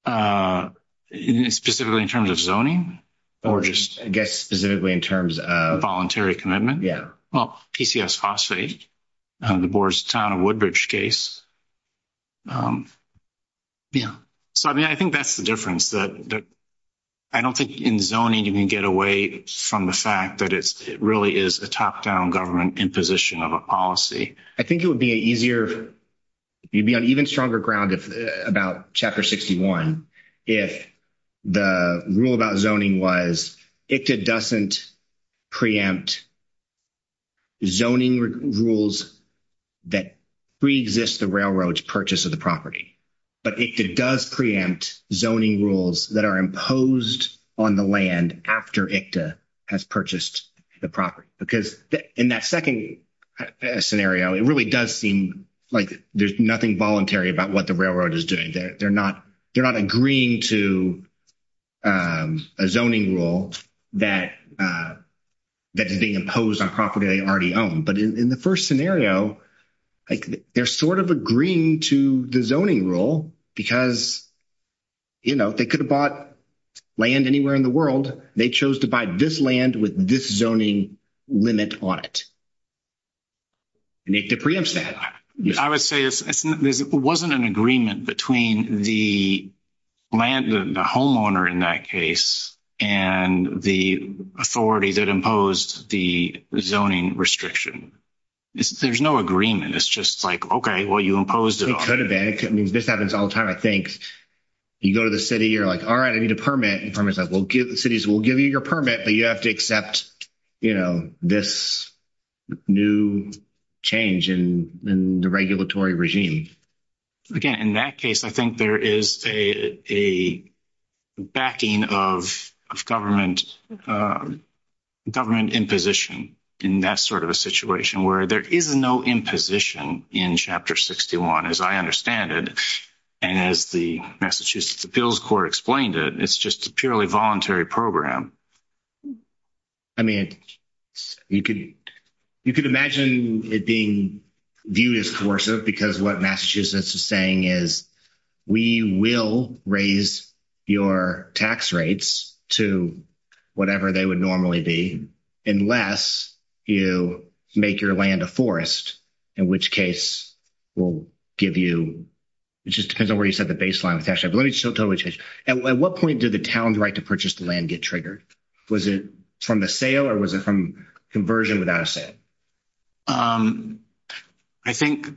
Specifically in terms of zoning? Or just, I guess, specifically in terms of... Voluntary commitment? Yeah. Well, PCS phosphate, the Board's Town of Woodbridge case. Yeah. So, I mean, I think that's the difference. I don't think in zoning, you can get away from the fact that it really is a top-down government imposition of a policy. I think it would be an easier... You'd be on even stronger ground about Chapter 61 if the rule about zoning was it doesn't preempt zoning rules that pre-exist the railroad's property. But it does preempt zoning rules that are imposed on the land after ICTA has purchased the property. Because in that second scenario, it really does seem like there's nothing voluntary about what the railroad is doing. They're not agreeing to a zoning rule that is being imposed on property they already own. But in the first scenario, they're sort of agreeing to the zoning rule because, you know, if they could have bought land anywhere in the world, they chose to buy this land with this zoning limit on it. And they preempted it. I would say there wasn't an agreement between the land, the homeowner in that case, and the authority that imposed the zoning restriction. There's no agreement. It's just like, okay, well, you imposed it. It could have been. I mean, this happens all the time, I think. You go to the city, you're like, all right, I need a permit. And the city's like, we'll give you your permit, but you have to accept this new change in the regulatory regime. Again, in that case, I think there is a backing of government imposition in that sort of a situation where there is no imposition in Chapter 61, as I understand it. And as the Massachusetts Appeals Court explained it, it's just a purely voluntary program. I mean, you could imagine it being viewed as coercive, because what Massachusetts is saying is, we will raise your tax rates to whatever they would normally be, unless you make your land a forest, in which case we'll give you, it just depends on where you set the baseline. At what point did the town's right to purchase the land get triggered? Was it from the sale, or was it from conversion without a sale? I think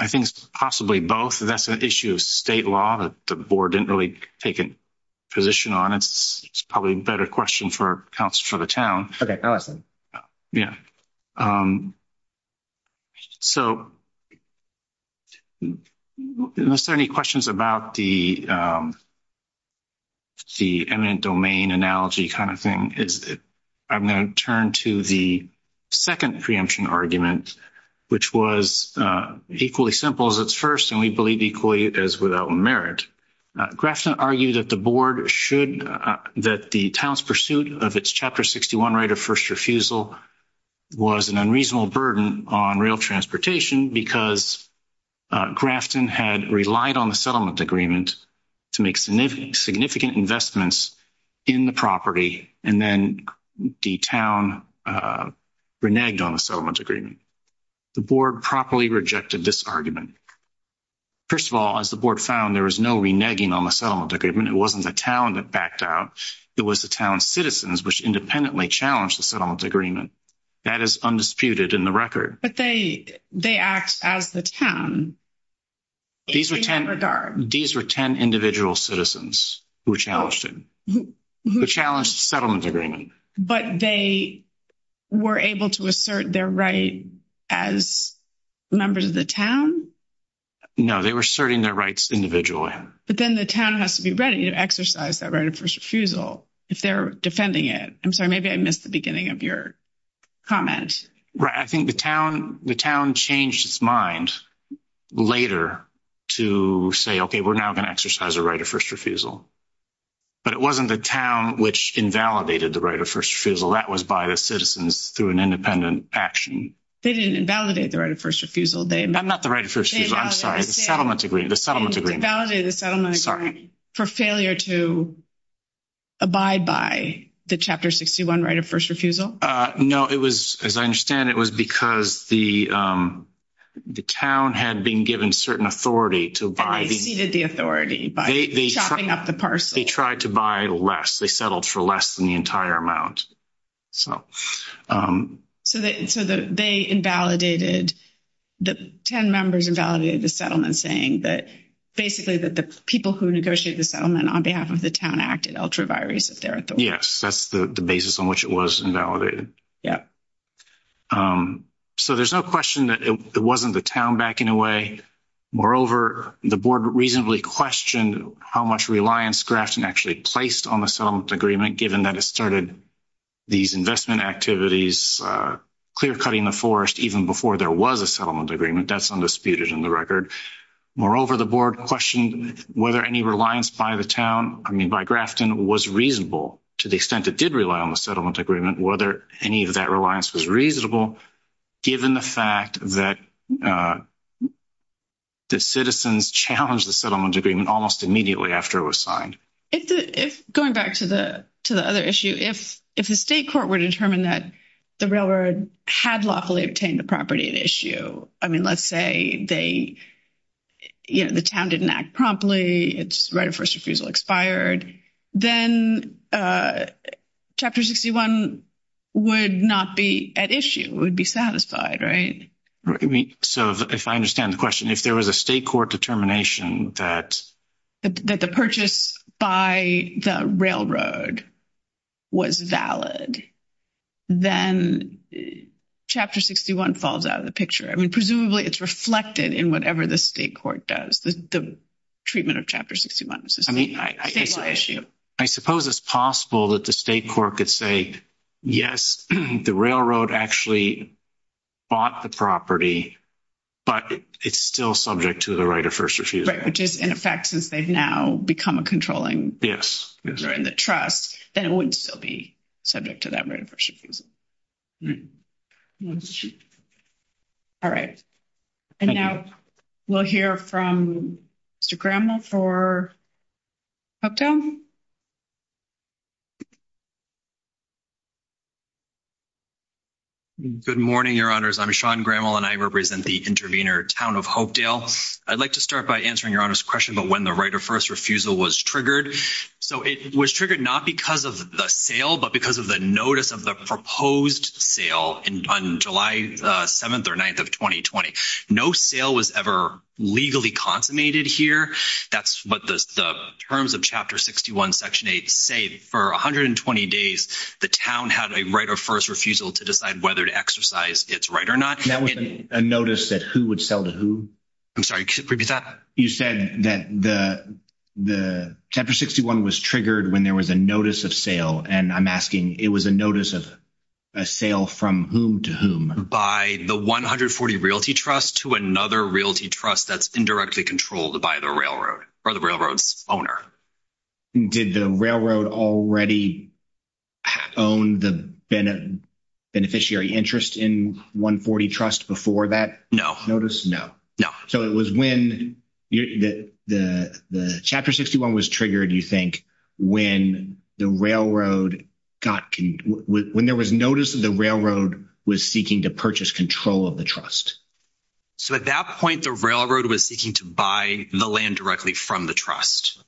it's possibly both. That's an issue of state law that the board didn't really take a position on. It's probably a better question for the town. Okay, awesome. Yeah. So, are there any questions about the eminent domain analogy kind of thing? I'm going to turn to the second preemption argument, which was equally simple as its first, and we believe equally as without merit. Grafton argued that the town's pursuit of its Chapter 61 right of first refusal was an unreasonable burden on rail transportation, because Grafton had relied on the settlement agreement to make significant investments in the property, and then the town reneged on the settlement agreement. The board properly rejected this argument. First of all, as the board found, there was no reneging on the settlement agreement. It wasn't the town that backed out. It was the town's citizens, which independently challenged the settlement agreement. That is undisputed in the record. But they act as the town. These were 10 individual citizens who challenged the settlement agreement. But they were able to assert their right as members of the town? No, they were asserting their rights individually. But then the town has to be ready to exercise that right of first refusal if they're defending it. I'm sorry, maybe I missed the beginning of your comments. I think the town changed its mind later to say, okay, we're now going to exercise a right of first refusal. But it wasn't the town which invalidated the right of first refusal. That was by the citizens through an independent action. They didn't invalidate the right of first refusal. I'm not the right of first refusal. I'm sorry, the settlement agreement. They invalidated the settlement agreement for failure to abide by the Chapter 61 right of first refusal. No, as I understand, it was because the town had been given certain authority to abide. They ceded the authority by chopping up the parsley. They tried to buy less. They settled for less than the entire amount. They invalidated, the town members invalidated the settlement saying that basically that the people who negotiated the settlement on behalf of the town acted ultra vires if they're at the- Yes, that's the basis on which it was invalidated. So there's no question that it wasn't the town back in a way. Moreover, the board reasonably questioned how much reliance Grafton actually placed on the settlement agreement given that it started these investment activities, clear-cutting the forest even before there was a settlement agreement. That's undisputed in the record. Moreover, the board questioned whether any reliance by the town, I mean by Grafton, was reasonable to the extent it did rely on the settlement agreement, whether any of that reliance was reasonable given the fact that citizens challenged the settlement agreement almost immediately after it was signed. Going back to the other issue, if the state court were to determine that the railroad had lawfully obtained the property at issue, I mean let's say the town didn't act promptly, its right of first refusal expired, then Chapter 61 would not be at issue, would be satisfied, right? So if I understand the question, if there was a state court determination that- That the purchase by the railroad was valid, then Chapter 61 falls out of the picture. I mean presumably it's reflected in whatever the state court does, the treatment of Chapter 61. I mean, I suppose it's possible that the state court could say, yes, the railroad actually bought the property, but it's still subject to the right of first refusal. Right, which is, in effect, since they've now become a controlling- Yes. In the trust, then it would still be subject to that right of first refusal. All right. And now we'll hear from Mr. Graml for Hopedale. Good morning, Your Honors. I'm Sean Graml, and I represent the intervener town of Hopedale. I'd like to start by answering Your Honor's question about when the right of first refusal was triggered. So it was triggered not because of the sale, but because of the notice of the proposed sale on July 7th or 9th of 2020. No sale was ever legally consummated here. That's what the terms of Chapter 61, Section 8 say. For 120 days, the town had a right of first refusal to decide whether to exercise its right or not. That was a notice that who would sell to who? I'm sorry, repeat that. You said that the Chapter 61 was triggered when there was a notice of sale. And I'm asking, it was a notice of a sale from whom to whom? By the 140 Realty Trust to another Realty Trust that's indirectly controlled by the railroad or the railroad's owner. Did the railroad already own the beneficiary interest in 140 Trust before that notice? No. So it was when the Chapter 61 was triggered, you think, when there was notice that the railroad was seeking to purchase control of the trust. So at that point, the railroad was seeking to buy the land directly from the trust.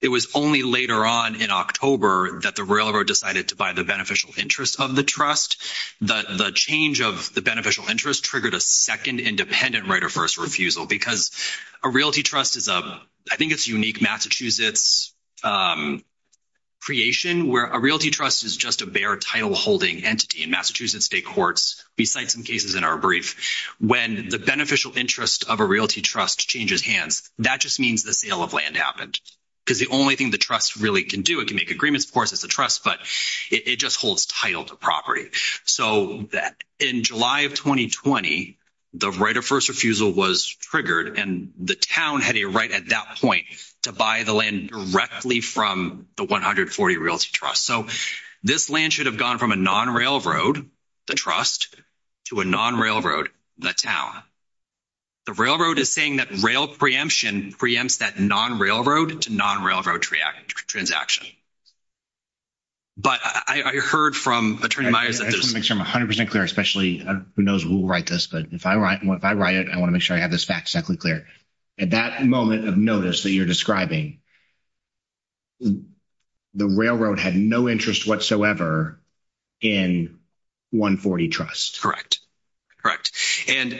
It was only later on in October that the railroad decided to buy the beneficial interest of the trust. The change of the beneficial interest triggered a second independent right of first refusal because a Realty Trust is a, I think it's unique Massachusetts creation where a Realty Trust is just a bare title holding entity in Massachusetts State Courts. We cite some cases in our brief. When the beneficial interest of a Realty Trust changes hands, that just means the sale of land happened because the only thing the trust really can do, it can make agreements, of So in July of 2020, the right of first refusal was triggered and the town had a right at that point to buy the land directly from the 140 Realty Trust. So this land should have gone from a non-railroad, the trust, to a non-railroad, the town. The railroad is saying that rail preemption preempts that non-railroad to non-railroad transaction. But I heard from Attorney Meyers. I just want to make sure I'm 100% clear, especially who knows who will write this, but if I write it, I want to make sure I have this fact exactly clear. At that moment of notice that you're describing, the railroad had no interest whatsoever in 140 Trust. Correct. Correct. And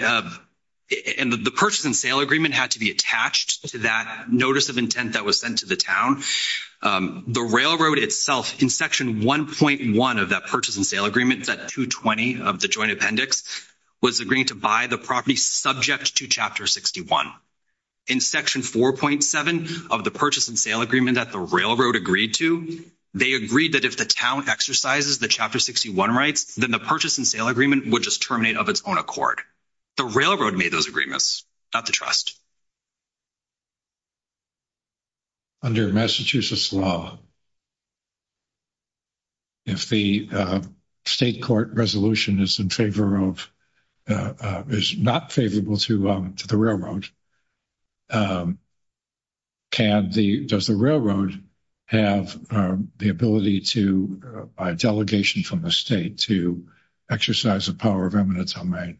the purchase and sale agreement had to be attached to that notice of intent that was sent to the town. The railroad itself, in Section 1.1 of that purchase and sale agreement, that 220 of the joint appendix, was agreeing to buy the property subject to Chapter 61. In Section 4.7 of the purchase and sale agreement that the railroad agreed to, they agreed that if the town exercises the Chapter 61 rights, then the purchase and sale agreement would just terminate of its own accord. The railroad made those agreements, not the trust. Under Massachusetts law, if the state court resolution is in favor of, is not favorable to the railroad, can the, does the railroad have the ability to, by delegation from the state, to exercise the power of eminence on mine?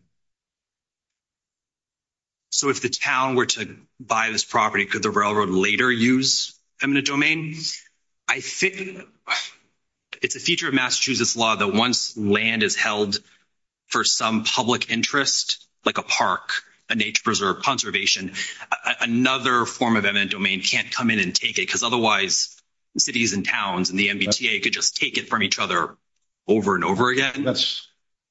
So, if the town were to buy this property, could the railroad later use eminent domain? I think it's a feature of Massachusetts law that once land is held for some public interest, like a park, a nature preserve, conservation, another form of eminent domain can't come in and take it, because otherwise, the cities and towns and the MBTA could just take it from each other over and over again. That's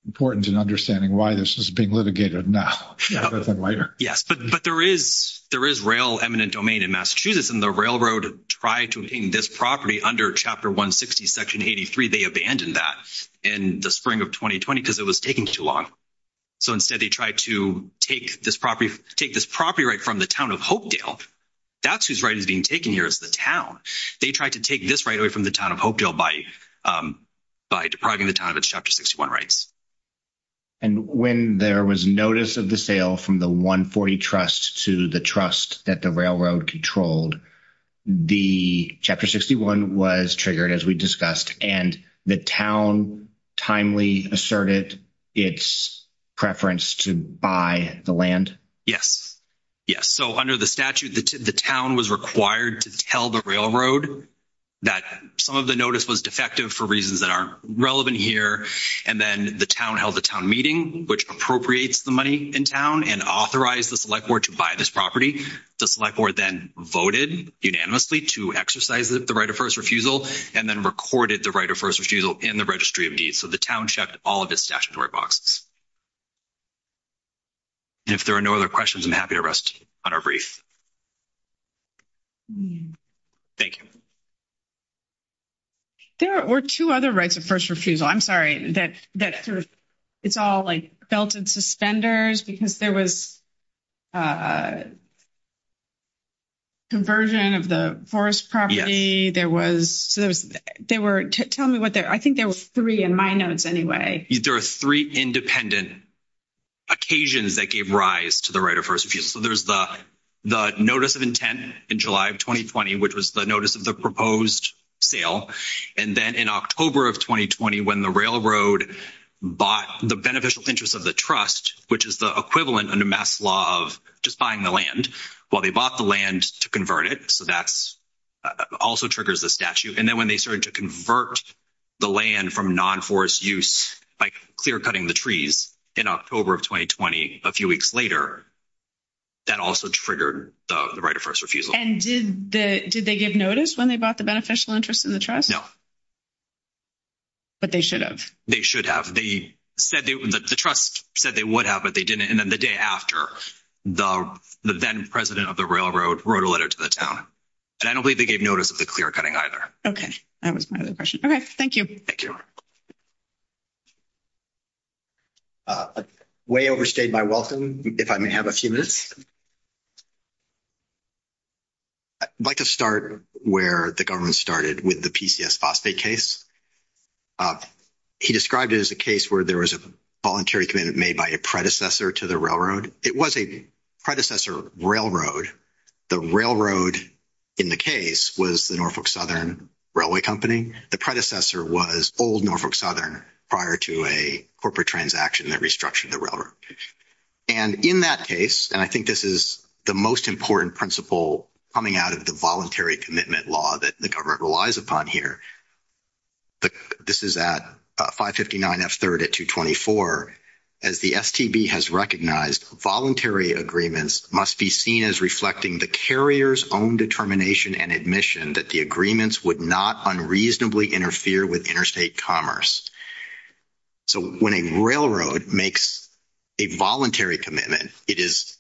important in understanding why this is being litigated now, rather than later. Yes, but there is rail eminent domain in Massachusetts, and the railroad tried to obtain this property under Chapter 160, Section 83. They abandoned that in the spring of 2020, because it was taking too long. So, instead, they tried to take this property right from the town of Hopedale. That's whose right is being taken here, is the town. They tried to take this right away from the town of Hopedale by by depriving the town of its Chapter 61 rights. And when there was notice of the sale from the 140 Trust to the trust that the railroad controlled, the Chapter 61 was triggered, as we discussed, and the town timely asserted its preference to buy the land? Yes, yes. So, under the statute, the town was required to tell the railroad that some of the notice was defective for reasons that aren't relevant here. And then the town held a town meeting, which appropriates the money in town and authorized the Select Board to buy this property. The Select Board then voted unanimously to exercise the right of first refusal, and then recorded the right of first refusal in the Registry of Deeds. So, the town checked all of its statutory boxes. If there are no other questions, I'm happy to rest on our brief. Thank you. There were two other rights of first refusal. I'm sorry, that's sort of, it's all like belted suspenders, because there was conversion of the forest property. There was, there were, tell me what, I think there was three in my notes anyway. There are three independent occasions that gave rise to the right of first refusal. There's the notice of intent in July of 2020, which was the notice of the proposed sale. And then in October of 2020, when the railroad bought the beneficial interest of the trust, which is the equivalent under Mass. Law of just buying the land, well, they bought the land to convert it. So, that also triggers the statute. And then when they started to convert the land from non-forest use by clearcutting the trees in October of 2020, a few weeks later, that also triggered the right of first refusal. And did they give notice when they bought the beneficial interest in the trust? But they should have. They should have. They said that the trust said they would have, but they didn't. And then the day after, the then president of the railroad wrote a letter to the town. And I don't believe they gave notice of the clearcutting either. Okay, that was my other question. Okay, thank you. Thank you. Way overstayed my welcome, if I may have a few minutes. I'd like to start where the government started with the PCS phosphate case. He described it as a case where there was a voluntary commitment made by a predecessor to the railroad. It was a predecessor railroad. The railroad in the case was the Norfolk Southern Railway Company. The predecessor was old Norfolk Southern prior to a corporate transaction that restructured the railroad. And in that case, and I think this is the most important principle coming out of the voluntary commitment law that the government relies upon here. This is at 559 F3rd at 224. As the STB has recognized, voluntary agreements must be seen as reflecting the carrier's own determination and admission that the agreements would not unreasonably interfere with interstate commerce. So when a railroad makes a voluntary commitment, it is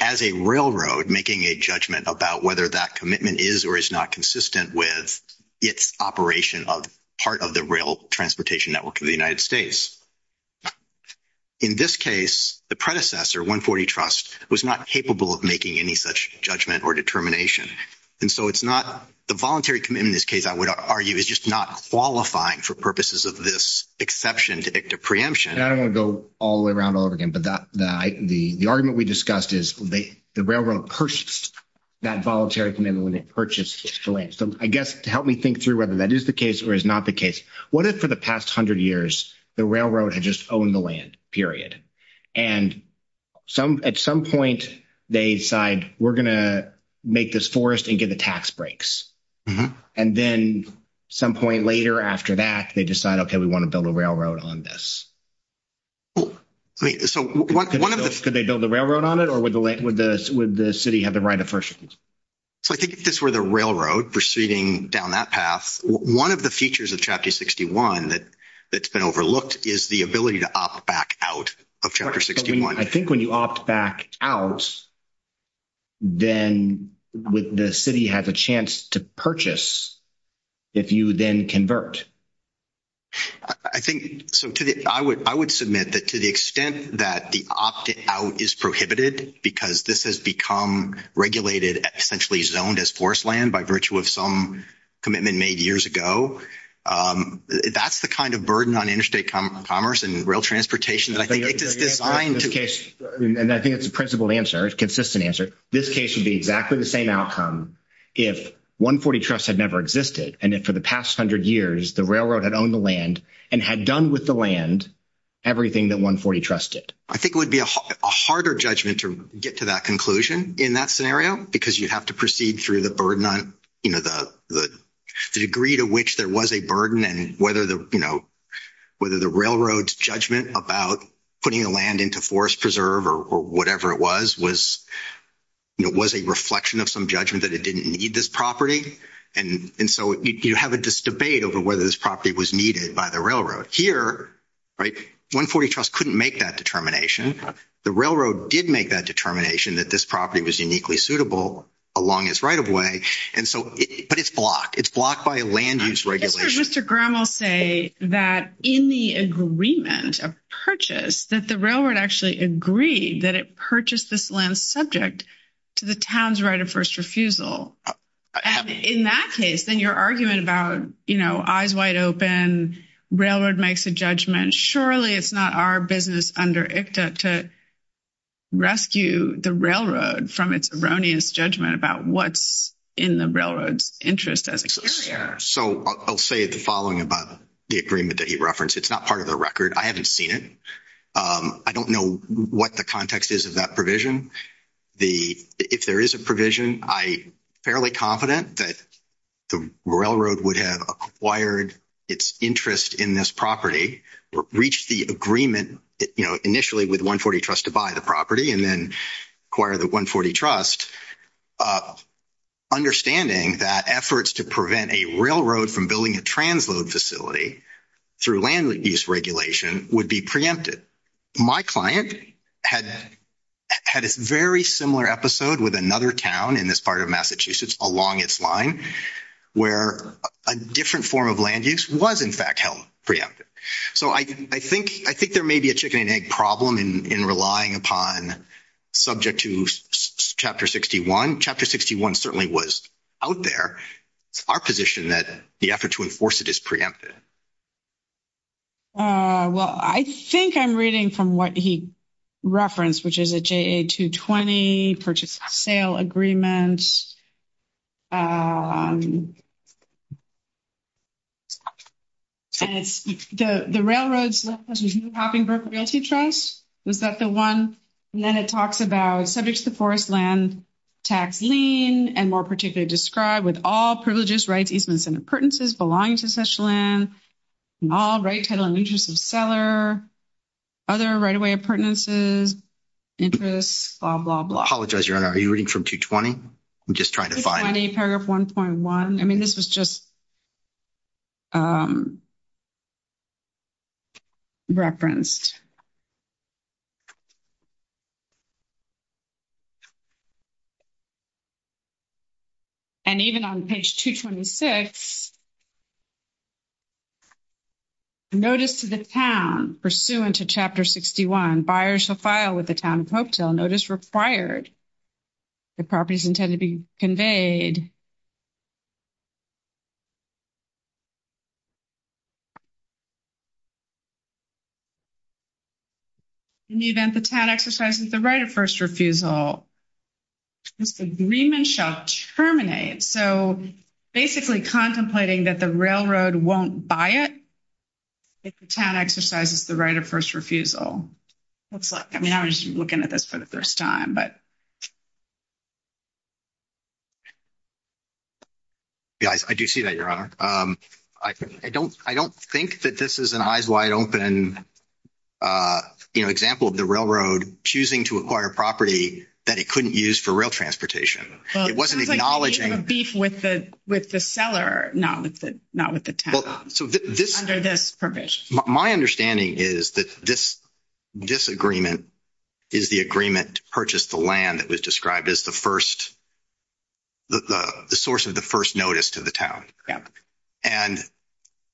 as a railroad making a judgment about whether that commitment is or is not consistent with its operation of part of the rail transportation network of the United States. In this case, the predecessor, 140 Trust, was not capable of making any such judgment or determination. And so it's not the voluntary commitment in this case, I would argue, is just not qualifying for purposes of this exception to preemption. Now I'm going to go all the way around all over again. But the argument we discussed is the railroad purchased that voluntary commitment when it purchased the land. So I guess to help me think through whether that is the case or is not the case, what if for the past 100 years, the railroad had just owned the land, period. And at some point, they decide, we're going to make this forest and give it tax breaks. And then some point later after that, they decide, okay, we want to build a railroad on this. So could they build a railroad on it or would the city have been right at first? So I think if this were the railroad proceeding down that path, one of the features of Chapter 61 that's been overlooked is the ability to opt back out of Chapter 61. I think when you opt back out, then the city has a chance to purchase if you then convert. I think I would submit that to the extent that the opt-out is prohibited because this has become regulated, essentially zoned as forest land by virtue of some commitment made years ago. That's the kind of burden on interstate commerce and rail transportation. And I think it's a principled answer. It's a consistent answer. This case would be exactly the same outcome if 140 Trust had never existed and that for the past 100 years, the railroad had owned the land and had done with the land everything that 140 Trust did. I think it would be a harder judgment to get to that conclusion in that scenario because you'd have to proceed through the burden on, you know, the degree to which there was a burden and whether, you know, whether the railroad's judgment about putting the land into forest preserve or whatever it was, was, you know, was a reflection of some judgment that it didn't need this property. And so you have this debate over whether this property was needed by the railroad. Here, right, 140 Trust couldn't make that determination. The railroad did make that determination that this property was uniquely suitable along its right-of-way. And so, but it's blocked. It's blocked by a land-use regulation. Mr. Grimm will say that in the agreement of purchase, that the railroad actually agreed that it purchased this land subject to the town's right of first refusal. And in that case, then your argument about, you know, eyes wide open, railroad makes a judgment, surely it's not our business under ICTA to rescue the railroad from its erroneous judgment about what's in the railroad's interest. So I'll say the following about the agreement that he referenced. It's not part of the record. I haven't seen it. I don't know what the context is of that provision. The, if there is a provision, I'm fairly confident that the railroad would have acquired its interest in this property, reached the agreement, you know, initially with 140 Trust to buy the property and then acquire the 140 Trust, understanding that efforts to prevent a railroad from building a transload facility through land-use regulation would be preempted. My client had a very similar episode with another town in this part of Massachusetts along its line where a different form of land use was in fact held preempted. So I think there may be a chicken and egg problem in relying upon subject to Chapter 61. Chapter 61 certainly was out there. Our position that the effort to enforce it is preempted. Well, I think I'm reading from what he referenced, which is a JA-220 purchase sale agreement. And it's the railroads, Huffingburgh Realty Trust, is that the one? And then it talks about subject to forest land tax lien and more particularly described with all privileges, rights, easements, and appurtenances belonging to such land, all rights, title, and interests of seller, other right of way appurtenances, interests, blah, blah, blah. I apologize, Your Honor. Are you reading from 220? I'm just trying to find it. On paragraph 1.1. I mean, this is just referenced. And even on page 226, notice to the town pursuant to Chapter 61, buyer shall file with the town of Hopetill notice required if properties intend to be conveyed. In the event the town exercises the right of first refusal, this agreement shall terminate. So basically contemplating that the railroad won't buy it if the town exercises the right of first refusal. Let's look. I mean, I was looking at this for the first time, but. Yeah, I do see that, Your Honor. I don't think that this is an eyes wide open, you know, example of the railroad choosing to acquire property that it couldn't use for rail transportation. It wasn't acknowledging. It could be in a beef with the seller, not with the town under this provision. My understanding is that this disagreement is the agreement to purchase the land that was described as the first. The source of the first notice to the town and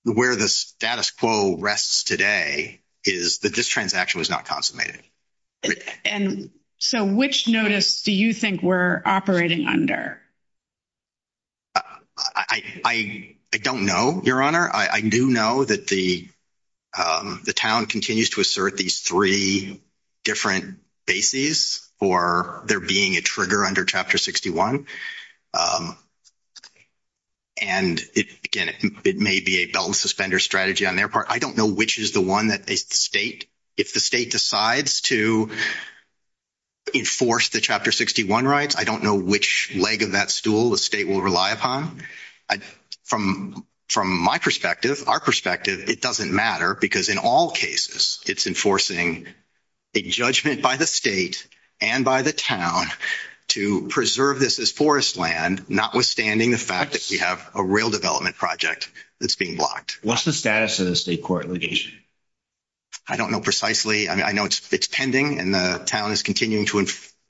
where the status quo rests today is that this transaction was not consummated. And so which notice do you think we're operating under? I don't know, Your Honor. I do know that the town continues to assert these three different bases for there being a trigger under Chapter 61. And again, it may be a suspended strategy on their part. I don't know which is the one that the state if the state decides to enforce the Chapter 61 rights. I don't know which leg of that stool the state will rely upon. From my perspective, our perspective, it doesn't matter because in all cases, it's enforcing a judgment by the state and by the town to preserve this as forest land, notwithstanding the fact that we have a rail development project that's being blocked. What's the status of the state court litigation? I don't know precisely. I mean, I know it's pending and the town is continuing to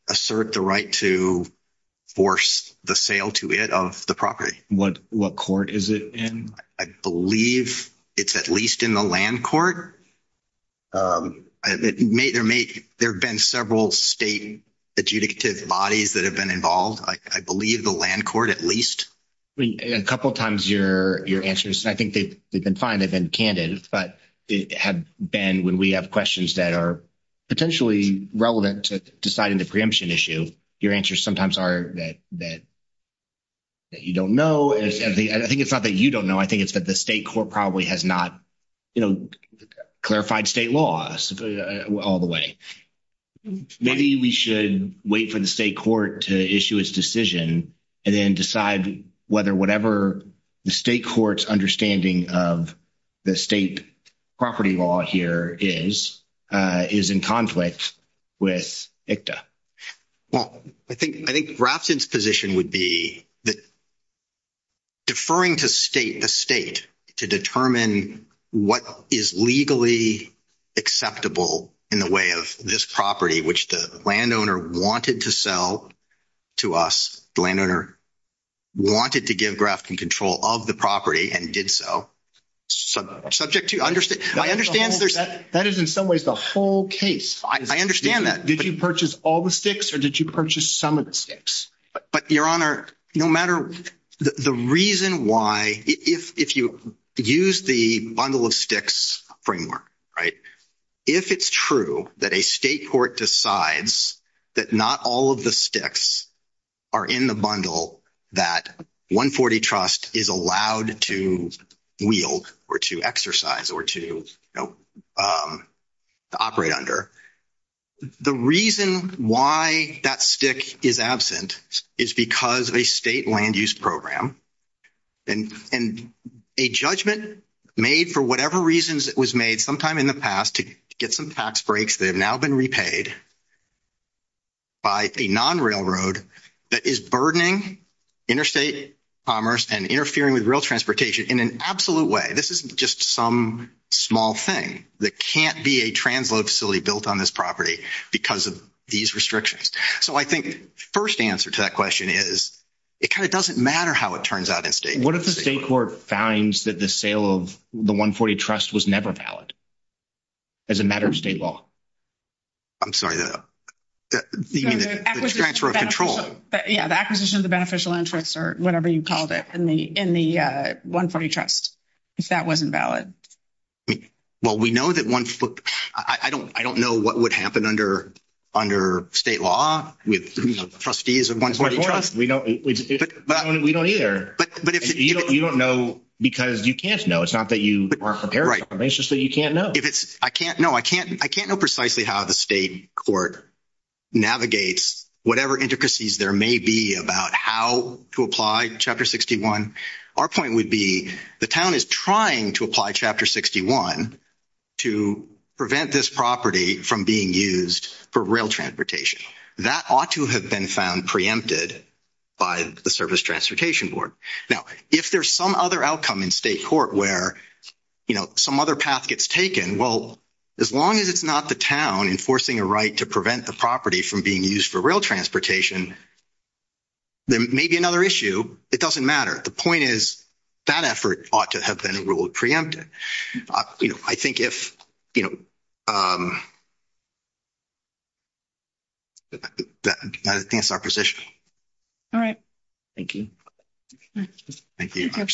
assert the right to force the sale to it of the property. What court is it in? I believe it's at least in the land court. There have been several state adjudicative bodies that have been involved. I believe the land court at least. A couple of times your answers, I think they've been fine. They've been candid. But it had been when we have questions that are potentially relevant to deciding the issue, your answers sometimes are that you don't know. I think it's not that you don't know. I think it's that the state court probably has not clarified state laws all the way. Maybe we should wait for the state court to issue its decision and then decide whether whatever the state court's understanding of the state property law here is in conflict with ICTA. Well, I think Routzen's position would be that deferring to the state to determine what is legally acceptable in the way of this property, which the landowner wanted to sell to us, the landowner wanted to give graphical control of the property and did so. Subject to... That is in some ways the whole case. I understand that. Did you purchase all the sticks or did you purchase some of the sticks? But your honor, no matter... The reason why if you use the bundle of sticks framework, right, if it's true that a state court decides that not all of the sticks are in the bundle that 140 Trust is allowed to wield or to exercise or to operate under, the reason why that stick is absent is because of a state land use program and a judgment made for whatever reasons it was made sometime in the past to get some tax breaks that have now been repaid by a non-railroad that is burdening interstate commerce and interfering with rail transportation in an absolute way. This isn't just some small thing that can't be a translocal facility built on this property because of these restrictions. So I think the first answer to that question is it kind of doesn't matter how it turns out in state court. What if the state court finds that the sale of the 140 Trust was never valid as a matter of state law? I'm sorry, the transfer of control. Yeah, the acquisition of the beneficial interest or whatever you called it in the 140 Trust. If that wasn't valid. Well, we know that 140... I don't know what would happen under state law with trustees of 140 Trust. We don't either. You don't know because you can't know. It's not that you are prepared for it. It's just that you can't know. If it's... I can't know precisely how the state court navigates whatever intricacies there may be about how to apply Chapter 61. Our point would be the town is trying to apply Chapter 61 to prevent this property from being used for rail transportation. That ought to have been found preempted by the Service Transportation Board. Now, if there's some other outcome in state court where, you know, some other path gets taken, well, as long as it's not the town enforcing a right to prevent the property from being used for rail transportation, there may be another issue. It doesn't matter. The point is that effort ought to have been preempted. I think if, you know, that would advance our position. All right. Thank you. Thank you.